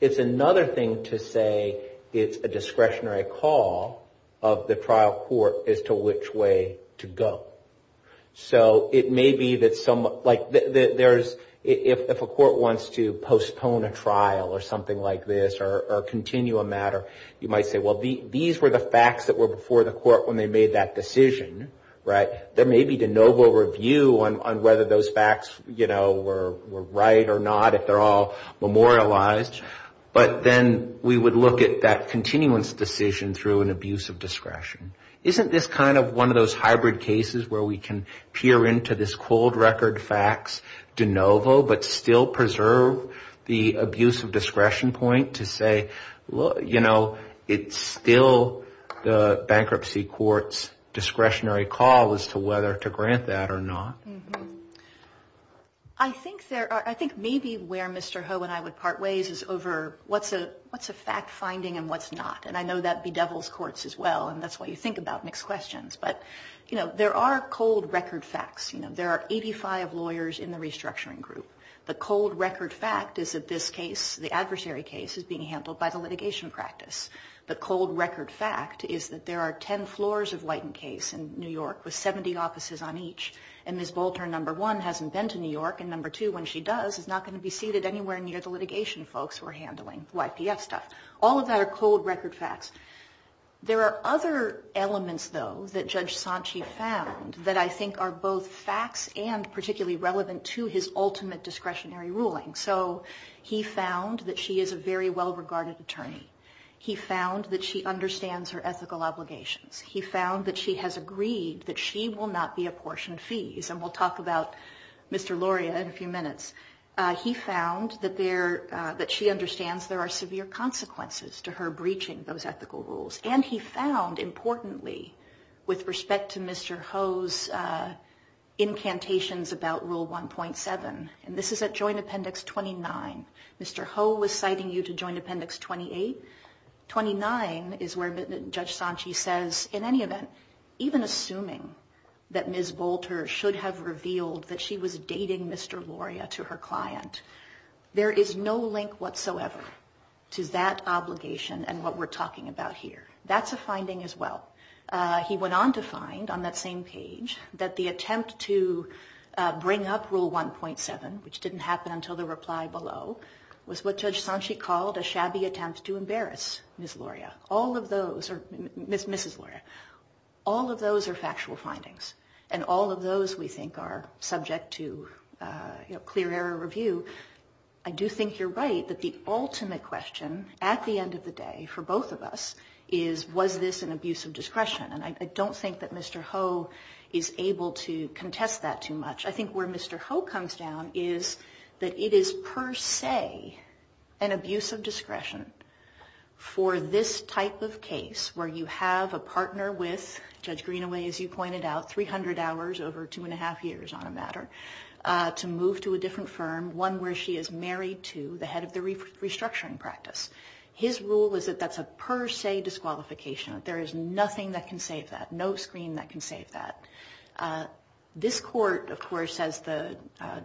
It's another thing to say it's a discretionary call of the trial court as to which way to go. If a court wants to postpone a trial or something like this or continue a matter, you might say, well, these were the facts that were before the court when they made that decision. There may be de novo review on whether those facts were right or not if they're all memorialized, but then we would look at that continuance decision through an abuse of discretion. Isn't this kind of one of those hybrid cases where we can peer into this cold record facts de novo but still preserve the abuse of discretion point to say, you know, it's still the bankruptcy court's discretionary call as to whether to grant that or not. I think maybe where Mr. Ho and I would part ways is over what's a fact finding and what's not. I know that bedevils courts as well and that's why you think about mixed questions. There are cold record facts. There are 85 lawyers in the restructuring group. The cold record fact is that this case, the adversary case, is being handled by the litigation practice. The cold record fact is that there are 10 floors of White and Case in New York with 70 offices on each, and Ms. Bolton, number one, hasn't been to New York, and number two, when she does, is not going to be seated anywhere near the litigation folks who are handling YPS stuff. All of that are cold record facts. There are other elements, though, that Judge Sanchi found that I think are both facts and particularly relevant to his ultimate discretionary ruling. He found that she is a very well regarded attorney. He found that she understands her ethical obligations. He found that she has agreed that she will not be apportioned fees, and we'll talk about Mr. Loria in a few minutes. He found that she understands there are severe consequences to her breaching those ethical rules, and he found, importantly, with respect to Mr. Ho's incantations about Rule 1.7, and this is at Joint Appendix 29, Mr. Ho was citing you to Joint Appendix 28. 29 is where Judge Sanchi says, in any event, even assuming that Ms. Bolton should have revealed that she was dating Mr. Loria to her client, there is no link whatsoever to that obligation and what we're talking about here. That's a finding as well. He went on to find, on that same page, that the attempt to bring up Rule 1.7, which didn't happen until the reply below, was what Judge Sanchi called a shabby attempt to embarrass Ms. Loria. All of those are factual findings, and all of those, we think, are subject to clear error review. I do think you're right that the ultimate question, at the end of the day, for both of us is, was this an abuse of discretion? I don't think that Mr. Ho is able to contest that too much. I think where Mr. Ho comes down is that it is, per se, an abuse of discretion for this type of case, where you have a partner with, Judge Greenaway, as you pointed out, 300 hours over two and a half years on a matter, to move to a different firm, one where she is married to the head of the restructuring practice. His rule is that that's a per se disqualification. There is nothing that can save that, no screen that can save that. This court, of course, as the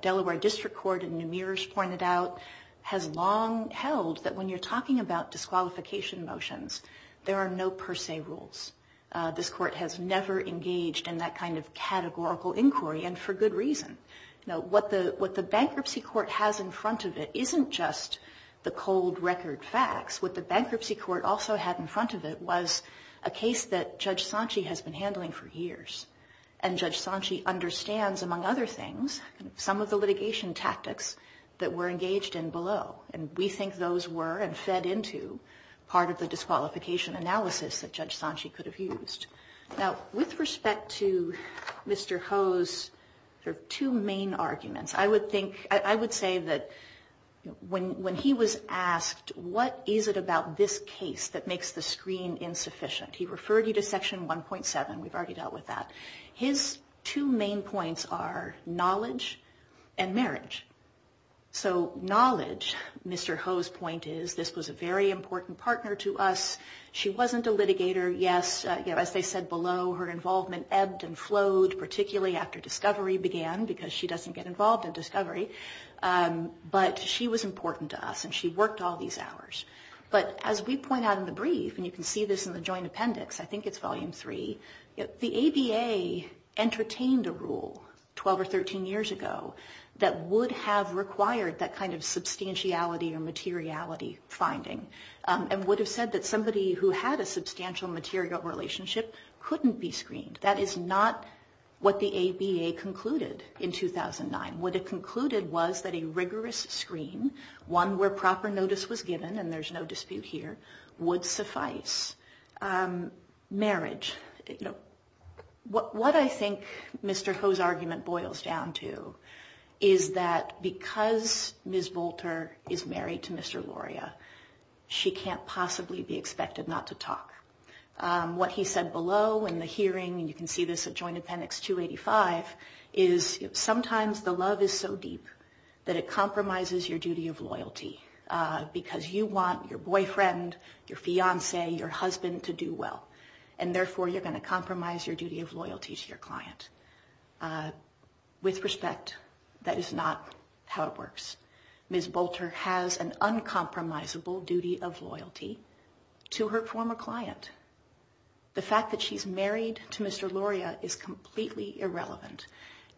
Delaware District Court in New Mears pointed out, has long held that when you're talking about disqualification motions, there are no per se rules. This court has never engaged in that kind of categorical inquiry, and for good reason. What the bankruptcy court has in front of it isn't just the cold record of facts. What the bankruptcy court also had in front of it was a case that Judge Sanchi has been handling for years, and Judge Sanchi understands, among other things, some of the litigation tactics that were engaged in below, and we think those were and fed into part of the disqualification analysis that Judge Sanchi could have used. Now, with respect to Mr. Ho's two main arguments, I would say that when he was asked, what is it about this case that makes the screen insufficient, he referred you to section 1.7. We've already dealt with that. His two main points are knowledge and marriage. So knowledge, Mr. Ho's point is, this was a very important partner to us. She wasn't a litigator. Yes, as they said below, her involvement ebbed and flowed, particularly after discovery began, because she doesn't get involved in discovery, but she was important to us, and she worked all these hours. But as we point out in the brief, and you can see this in the joint appendix, I think it's volume three, the ABA entertained a rule 12 or 13 years ago that would have required that kind of substantiality or materiality finding, and would have said that somebody who had a substantial material relationship couldn't be screened. That is not what the ABA concluded in 2009. What it concluded was that a rigorous screen, one where proper notice was given, and there's no dispute here, would suffice. Marriage. What I think Mr. Ho's argument boils down to is that because Ms. Volter is married to Mr. Loria, she can't possibly be expected not to talk. What he said below in the hearing, and you can see this in joint appendix 285, is sometimes the love is so deep that it compromises your duty of loyalty, because you want your boyfriend, your fiance, your husband to do well, and therefore you're going to compromise your duty of loyalty to your client. With respect, that is not how it works. Ms. Volter has an uncompromisable duty of loyalty to her former client. The fact that she's married to Mr. Loria is completely irrelevant.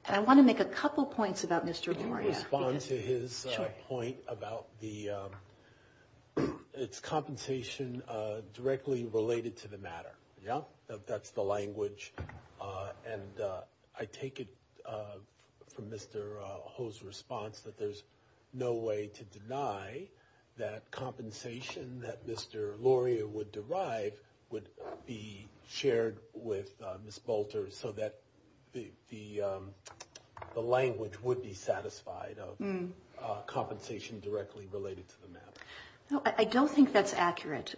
I want to make a couple points about Mr. Loria. I want to respond to his point about the compensation directly related to the matter. That's the language, and I take it from Mr. Ho's response that there's no way to deny that compensation that Mr. Loria would derive would be shared with Ms. Volter so that the language would be satisfied of compensation directly related to the matter. I don't think that's accurate.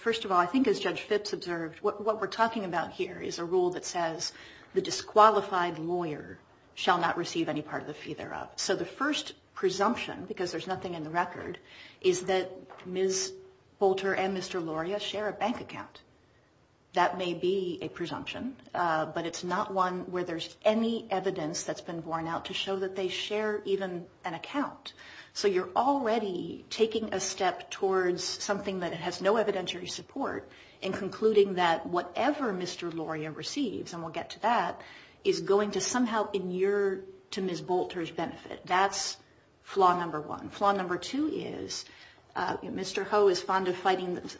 First of all, I think as Judge Fitz observed, what we're talking about here is a rule that says the disqualified lawyer shall not receive any part of the fee thereof. The first presumption, because there's nothing in the record, is that Ms. Volter and Mr. Loria share a bank account. That may be a presumption, but it's not one where there's any evidence that's been worn out to show that they share even an account. You're already taking a step towards something that has no evidentiary support in concluding that whatever Mr. Loria receives, and we'll get to that, is going to somehow inure to Ms. Volter's benefit. That's flaw number one. Flaw number two is Mr. Ho is fond of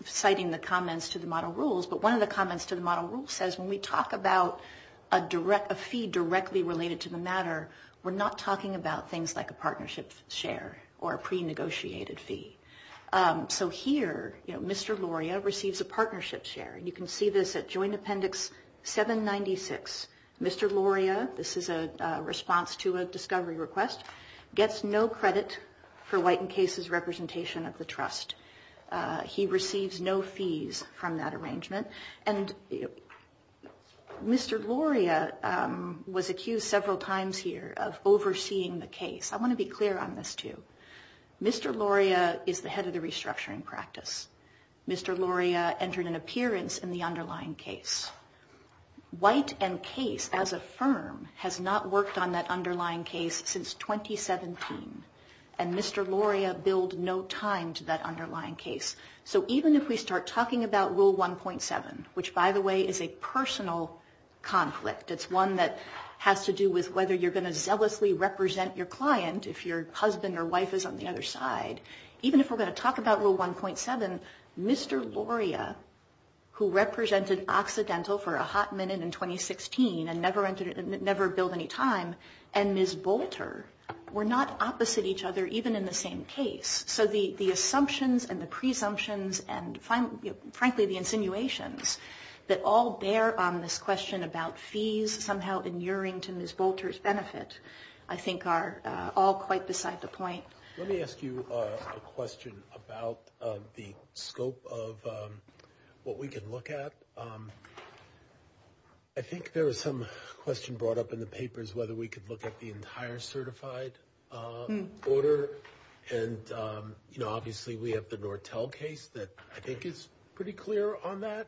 citing the comments to the model rules, but one of the comments to the model rules says when we talk about a fee directly related to the matter, we're not talking about things like a partnership share or a pre-negotiated fee. Here, Mr. Loria receives a partnership share. You can see this at Joint Appendix 796. Mr. Loria, this is a response to a discovery request, gets no credit for White and Case's representation of the trust. He receives no fees from that arrangement. And Mr. Loria was accused several times here of overseeing the case. I want to be clear on this too. Mr. Loria is the head of the restructuring practice. Mr. Loria entered an appearance in the underlying case. White and Case, as a firm, has not worked on that underlying case since 2017, and Mr. Loria billed no time to that underlying case. So even if we start talking about Rule 1.7, which, by the way, is a personal conflict, it's one that has to do with whether you're going to zealously represent your client if your husband or wife is on the other side, even if we're going to talk about Rule 1.7, Mr. Loria, who represented Occidental for a hot minute in 2016 and never billed any time, and Ms. Bolter were not opposite each other even in the same case. So the assumptions and the presumptions and, frankly, the insinuations that all bear on this question about fees somehow inuring to Ms. Bolter's benefit I think are all quite beside the point. Let me ask you a question about the scope of what we can look at. I think there was some question brought up in the papers whether we could look at the entire certified order, and obviously we have the Nortel case that I think is pretty clear on that,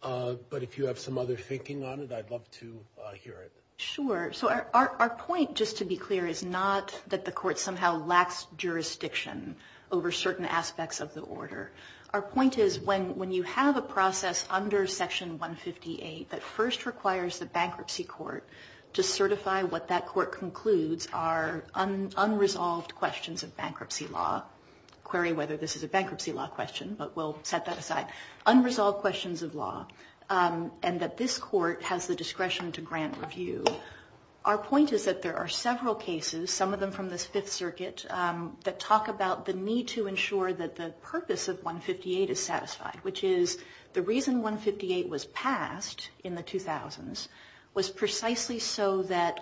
but if you have some other thinking on it, I'd love to hear it. Sure. So our point, just to be clear, is not that the court somehow lacks jurisdiction over certain aspects of the order. Our point is when you have a process under Section 158 that first requires the bankruptcy court to certify what that court concludes are unresolved questions of bankruptcy law, query whether this is a bankruptcy law question, but we'll set that aside, unresolved questions of law, and that this court has the discretion to grant review. Our point is that there are several cases, some of them from the Fifth Circuit, that talk about the need to ensure that the purpose of 158 is satisfied, which is the reason 158 was passed in the 2000s was precisely so that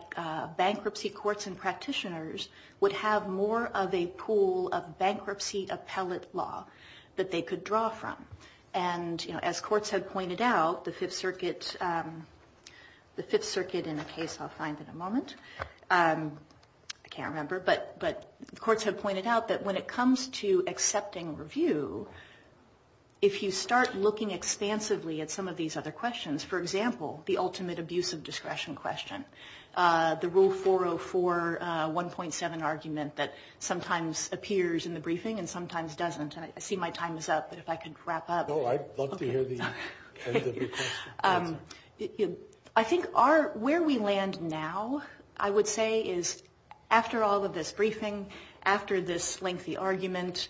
bankruptcy courts and practitioners would have more of a pool of bankruptcy appellate law that they could draw from. And as courts had pointed out, the Fifth Circuit, in a case I'll find in a moment, I can't remember, but courts had pointed out that when it comes to accepting review, if you start looking expansively at some of these other questions, for example, the ultimate abuse of discretion question, the Rule 404.1.7 argument that sometimes appears in the briefing and sometimes doesn't, and I see my time is up, but if I could wrap up. No, I'd love to hear the end of your question. I think where we land now, I would say, is after all of this briefing, after this lengthy argument,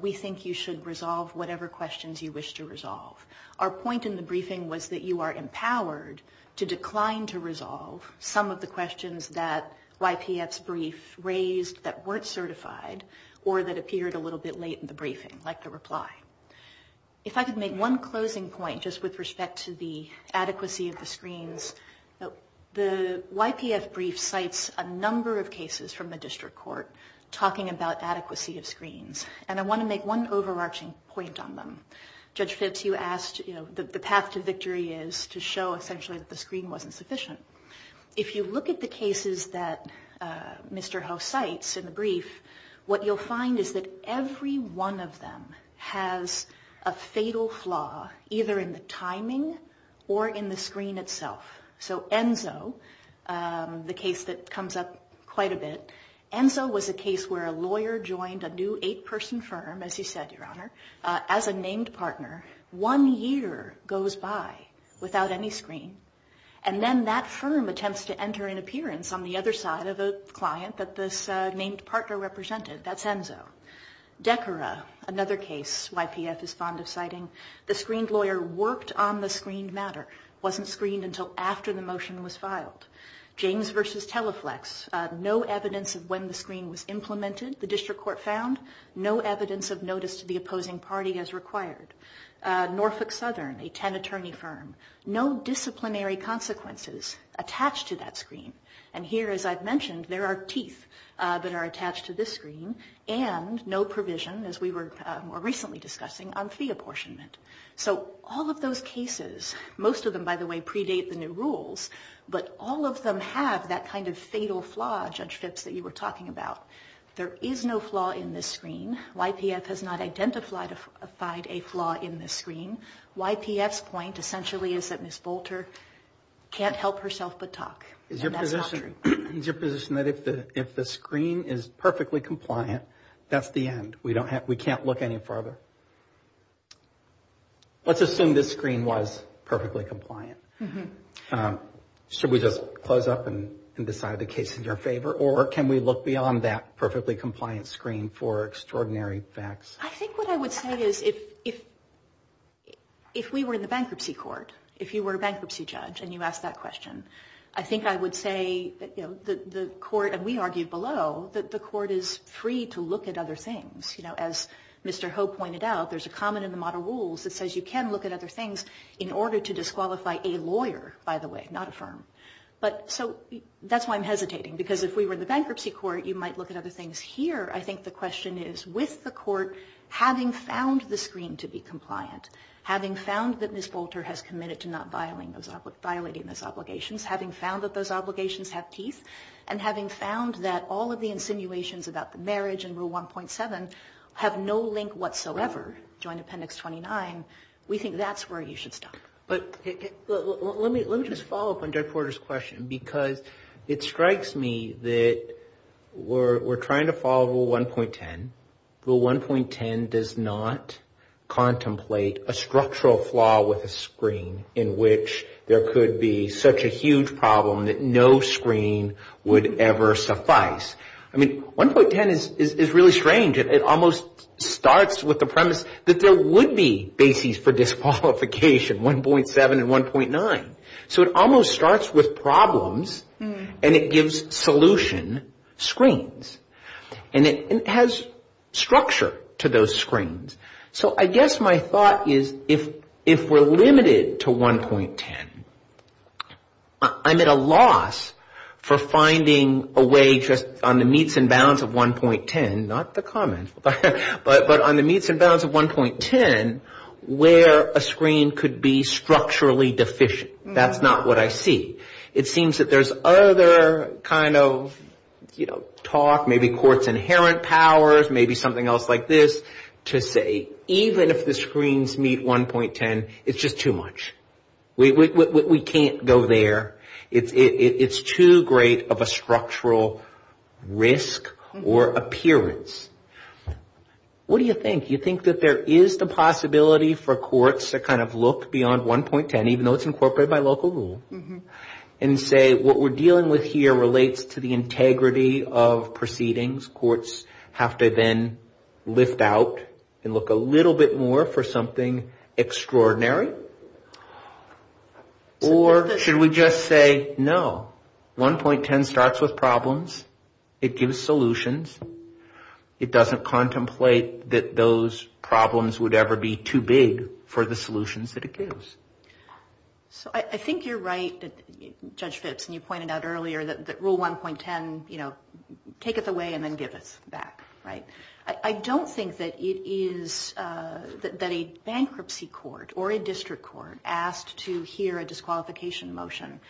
we think you should resolve whatever questions you wish to resolve. Our point in the briefing was that you are empowered to decline to resolve some of the questions that YPF's brief raised that weren't certified or that appeared a little bit late in the briefing, like the reply. If I could make one closing point just with respect to the adequacy of the screens, the YPF brief cites a number of cases from the district court talking about adequacy of screens, and I want to make one overarching point on them. Judge Phipps, you asked the path to victory is to show, essentially, that the screen wasn't sufficient. If you look at the cases that Mr. Ho cites in the brief, what you'll find is that every one of them has a fatal flaw, either in the timing or in the screen itself. So Enzo, the case that comes up quite a bit, Enzo was a case where a lawyer joined a new eight-person firm, as you said, Your Honor, as a named partner. One year goes by without any screen, and then that firm attempts to enter an appearance on the other side of a client that this named partner represented. That's Enzo. Decorah, another case YPF is fond of citing, the screened lawyer worked on the screened matter, wasn't screened until after the motion was filed. James v. Teleflex, no evidence of when the screen was implemented, the district court found, no evidence of notice to the opposing party as required. Norfolk Southern, a ten-attorney firm, no disciplinary consequences attached to that screen. And here, as I've mentioned, there are teeth that are attached to this screen and no provision, as we were more recently discussing, on fee apportionment. So all of those cases, most of them, by the way, predate the new rules, but all of them have that kind of fatal flaw, Judge Phipps, that you were talking about. There is no flaw in this screen. YPF has not identified a flaw in this screen. YPF's point, essentially, is that Ms. Bolter can't help herself but talk. And that's not true. Is your position that if the screen is perfectly compliant, that's the end? We can't look any further? Let's assume this screen was perfectly compliant. Should we just close up and decide the case in your favor, or can we look beyond that perfectly compliant screen for extraordinary facts? I think what I would say is if we were in the bankruptcy court, if you were a bankruptcy judge and you asked that question, I think I would say that the court, and we argued below, that the court is free to look at other things. As Mr. Ho pointed out, there's a comment in the modern rules that says you can look at other things in order to disqualify a lawyer, by the way, not a firm. That's why I'm hesitating, because if we were in the bankruptcy court, you might look at other things. Here, I think the question is, with the court having found the screen to be compliant, having found that Ms. Bolter has committed to not violating those obligations, having found that those obligations have teeth, and having found that all of the insinuations about the marriage in Rule 1.7 have no link whatsoever, Joint Appendix 29, we think that's where you should stop. Let me just follow up on Doug Porter's question, because it strikes me that we're trying to follow Rule 1.10. Rule 1.10 does not contemplate a structural flaw with a screen in which there could be such a huge problem that no screen would ever suffice. I mean, 1.10 is really strange. It almost starts with the premise that there would be bases for disqualification, 1.7 and 1.9. So it almost starts with problems, and it gives solution screens, and it has structure to those screens. So I guess my thought is, if we're limited to 1.10, I'm at a loss for finding a way just on the meets and bounds of 1.10, not the common, but on the meets and bounds of 1.10, where a screen could be structurally deficient. That's not what I see. It seems that there's other kind of talk, maybe court's inherent powers, maybe something else like this, to say even if the screens meet 1.10, it's just too much. We can't go there. It's too great of a structural risk or appearance. What do you think? You think that there is the possibility for courts to kind of look beyond 1.10, even though it's incorporated by local rule, and say what we're dealing with here relates to the integrity of proceedings. Courts have to then lift out and look a little bit more for something extraordinary? Or should we just say, no, 1.10 starts with problems. It gives solutions. It doesn't contemplate that those problems would ever be too big for the solutions that it gives. I think you're right, Judge Fitz, and you pointed out earlier that rule 1.10, take it away and then give it back. I don't think that a bankruptcy court or a district court asked to hear a disqualification motion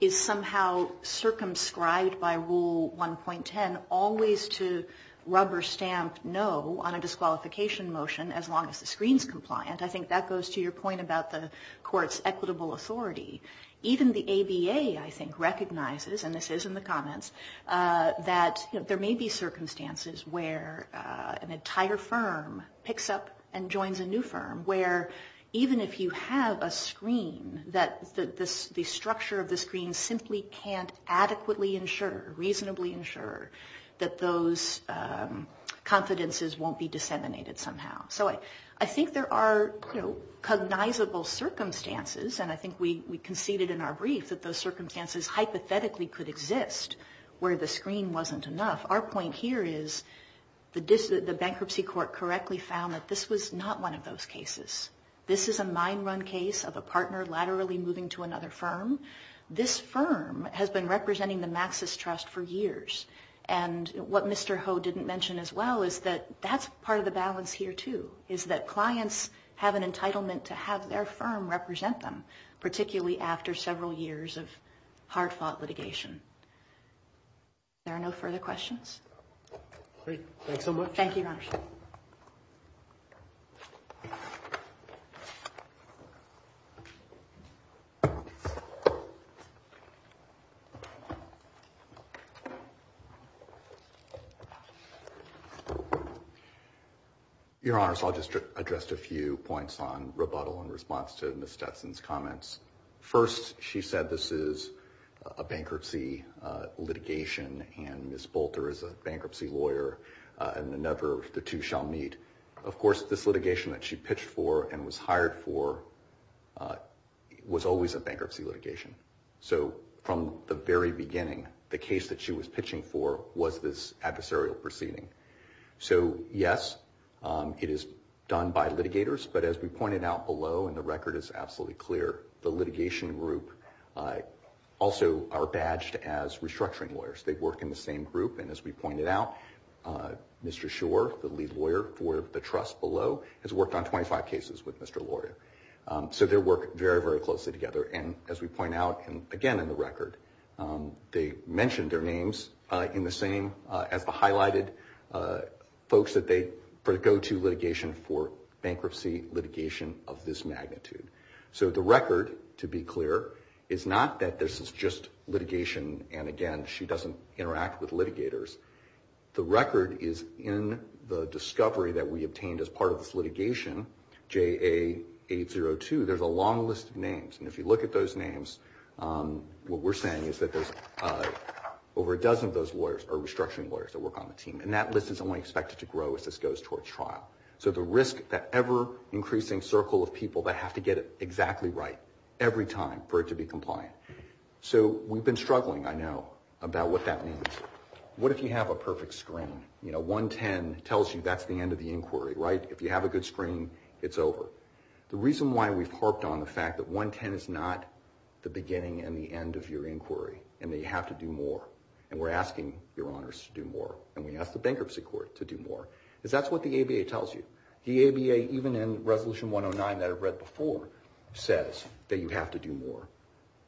is somehow circumscribed by rule 1.10 always to rubber stamp no on a disqualification motion as long as the screen's compliant. I think that goes to your point about the court's equitable authority. Even the ABA, I think, recognizes, and this is in the comments, that there may be circumstances where an entire firm picks up and joins a new firm, where even if you have a screen that the structure of the screen simply can't adequately ensure, reasonably ensure, that those confidences won't be disseminated somehow. I think there are cognizable circumstances, and I think we conceded in our brief that those circumstances hypothetically could exist where the screen wasn't enough. Our point here is the bankruptcy court correctly found that this was not one of those cases. This is a mine run case of a partner laterally moving to another firm. This firm has been representing the Maxis Trust for years. What Mr. Ho didn't mention as well is that that's part of the balance here, too, is that clients have an entitlement to have their firm represent them, particularly after several years of hard-fought litigation. Are there no further questions? Great. Thanks so much. Thank you. Your Honor, so I'll just address a few points on rebuttal in response to Ms. Stetson's comments. First, she said this is a bankruptcy litigation, and Ms. Bolter is a bankruptcy lawyer, and the two shall meet. Of course, this litigation that she pitched for and was hired for was always a bankruptcy litigation. So from the very beginning, the case that she was pitching for was this adversarial proceeding. So, yes, it is done by litigators. But as we pointed out below, and the record is absolutely clear, the litigation group also are badged as restructuring lawyers. They work in the same group. And as we pointed out, Mr. Schor, the lead lawyer for the trust below, has worked on 25 cases with Mr. Loria. So they work very, very closely together. And as we point out, again, in the record, they mention their names in the same, as the highlighted folks that they go to litigation for bankruptcy litigation of this magnitude. So the record, to be clear, is not that this is just litigation, and again, she doesn't interact with litigators. The record is in the discovery that we obtained as part of this litigation, JA802. There's a long list of names. And if you look at those names, what we're saying is that there's over a dozen of those lawyers are restructuring lawyers that work on the team. And that list is only expected to grow as this goes towards trial. So the risk, that ever-increasing circle of people that have to get it exactly right every time for it to be compliant. So we've been struggling, I know, about what that means. What if you have a perfect screen? You know, 110 tells you that's the end of the inquiry, right? If you have a good screen, it's over. The reason why we've harped on the fact that 110 is not the beginning and the end of your inquiry, and that you have to do more, and we're asking your honors to do more, and we ask the bankruptcy court to do more, is that's what the ABA tells you. The ABA, even in Resolution 109 that I've read before, says that you have to do more.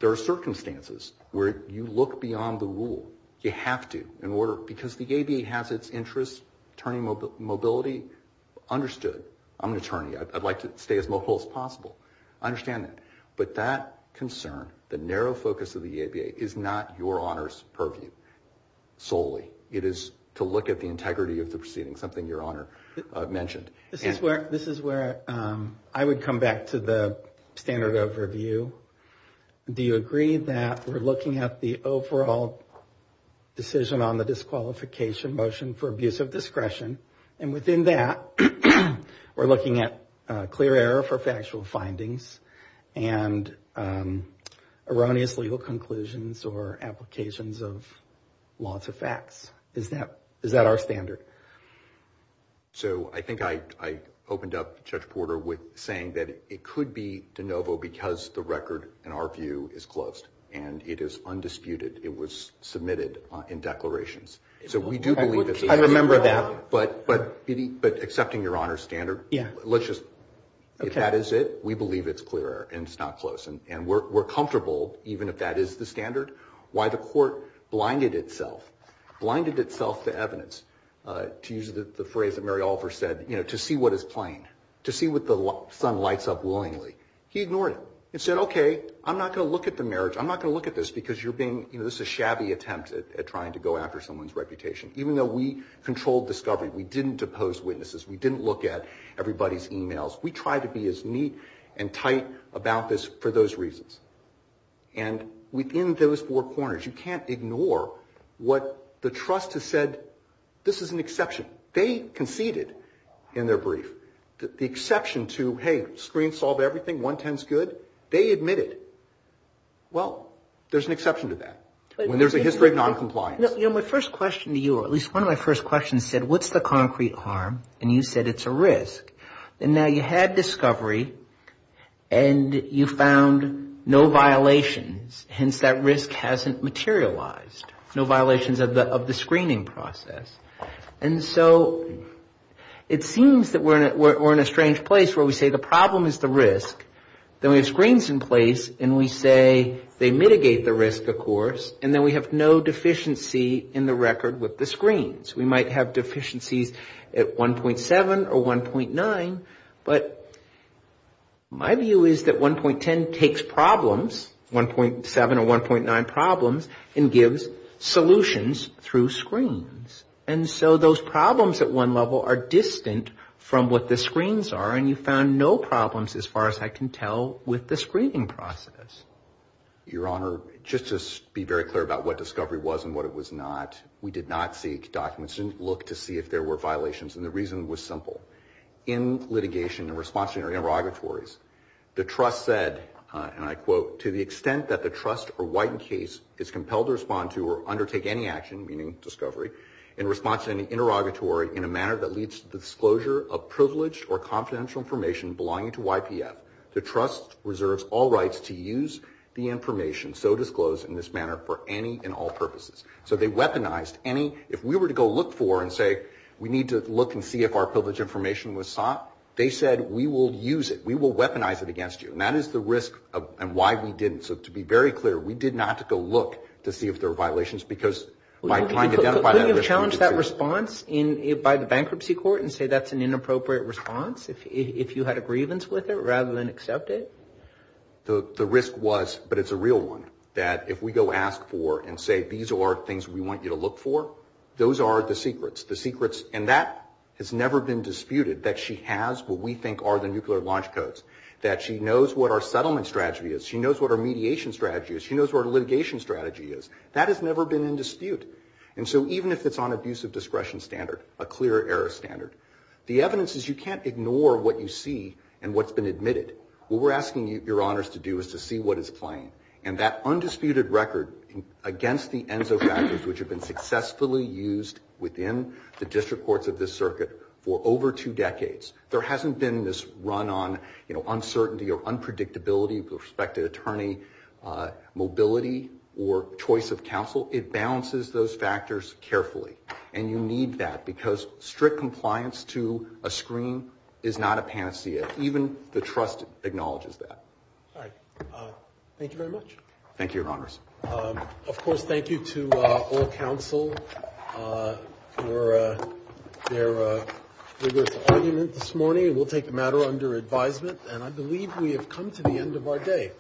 There are circumstances where you look beyond the rule. You have to, because the ABA has its interests, attorney mobility understood. I'm an attorney. I'd like to stay as mobile as possible. I understand that. But that concern, the narrow focus of the ABA, is not your honors purview solely. It is to look at the integrity of the proceedings, something your honor mentioned. This is where I would come back to the standard overview. Do you agree that we're looking at the overall decision on the disqualification motion for abuse of discretion? And within that, we're looking at clear error for factual findings and erroneous legal conclusions or applications of laws of facts. Is that our standard? So I think I opened up Judge Porter with saying that it could be de novo because the record, in our view, is closed, and it is undisputed. It was submitted in declarations. I remember that. But accepting your honor's standard, if that is it, we believe it's clear and it's not closed. And we're comfortable, even if that is the standard, why the court blinded itself, blinded itself to evidence, to use the phrase that Mary Alford said, to see what is plain, to see what the sun lights up willingly. He ignored it and said, okay, I'm not going to look at the marriage. I'm not going to look at this because you're being, you know, this is a shabby attempt at trying to go after someone's reputation. Even though we controlled discovery, we didn't depose witnesses, we didn't look at everybody's emails, we tried to be as neat and tight about this for those reasons. And within those four corners, you can't ignore what the trust has said, this is an exception. They conceded in their brief. The exception to, hey, screen solved everything, 110 is good, they admitted it. Well, there's an exception to that when there's a history of noncompliance. My first question to you, or at least one of my first questions said, what's the concrete harm? And you said it's a risk. And now you had discovery and you found no violations, hence that risk hasn't materialized, no violations of the screening process. And so it seems that we're in a strange place where we say the problem is the risk, then we have screens in place and we say they mitigate the risk, of course, and then we have no deficiency in the record with the screens. We might have deficiencies at 1.7 or 1.9, but my view is that 1.10 takes problems, 1.7 or 1.9 problems, and gives solutions through screens. And so those problems at one level are distant from what the screens are and you found no problems as far as I can tell with the screening process. Your Honor, just to be very clear about what discovery was and what it was not, we did not seek documents, we didn't look to see if there were violations, and the reason was simple. In litigation in response to interrogatories, the trust said, and I quote, to the extent that the trust or widened case is compelled to respond to or undertake any action, meaning discovery, in response to any interrogatory in a manner that leads to the disclosure of privileged or confidential information belonging to YPF, the trust reserves all rights to use the information so disclosed in this manner for any and all purposes. So they weaponized any, if we were to go look for and say we need to look and see if our privileged information was sought, they said we will use it. We will weaponize it against you. And that is the risk and why we didn't. So to be very clear, we did not go look to see if there were violations because by trying to identify that... Could you have challenged that response by the bankruptcy court and say that's an inappropriate response if you had a grievance with it rather than accept it? The risk was, but it's a real one, that if we go ask for and say these are things we want you to look for, those are the secrets. And that has never been disputed, that she has what we think are the nuclear launch codes, that she knows what our settlement strategy is, she knows what our mediation strategy is, she knows what our litigation strategy is. That has never been in dispute. And so even if it's on a use of discretion standard, a clear error standard, the evidence is you can't ignore what you see and what's been admitted. What we're asking your honors to do is to see what is playing. And that undisputed record against the ENSO factors which have been successfully used within the district courts of this circuit for over two decades. There hasn't been this run on uncertainty or unpredictability with respect to attorney mobility or choice of counsel. It balances those factors carefully. And you need that because strict compliance to a screen is not a panacea. Even the trust acknowledges that. All right. Thank you very much. Thank you, your honors. Of course, thank you to all counsel for their vigorous argument this morning. We'll take the matter under advisement. And I believe we have come to the end of our day.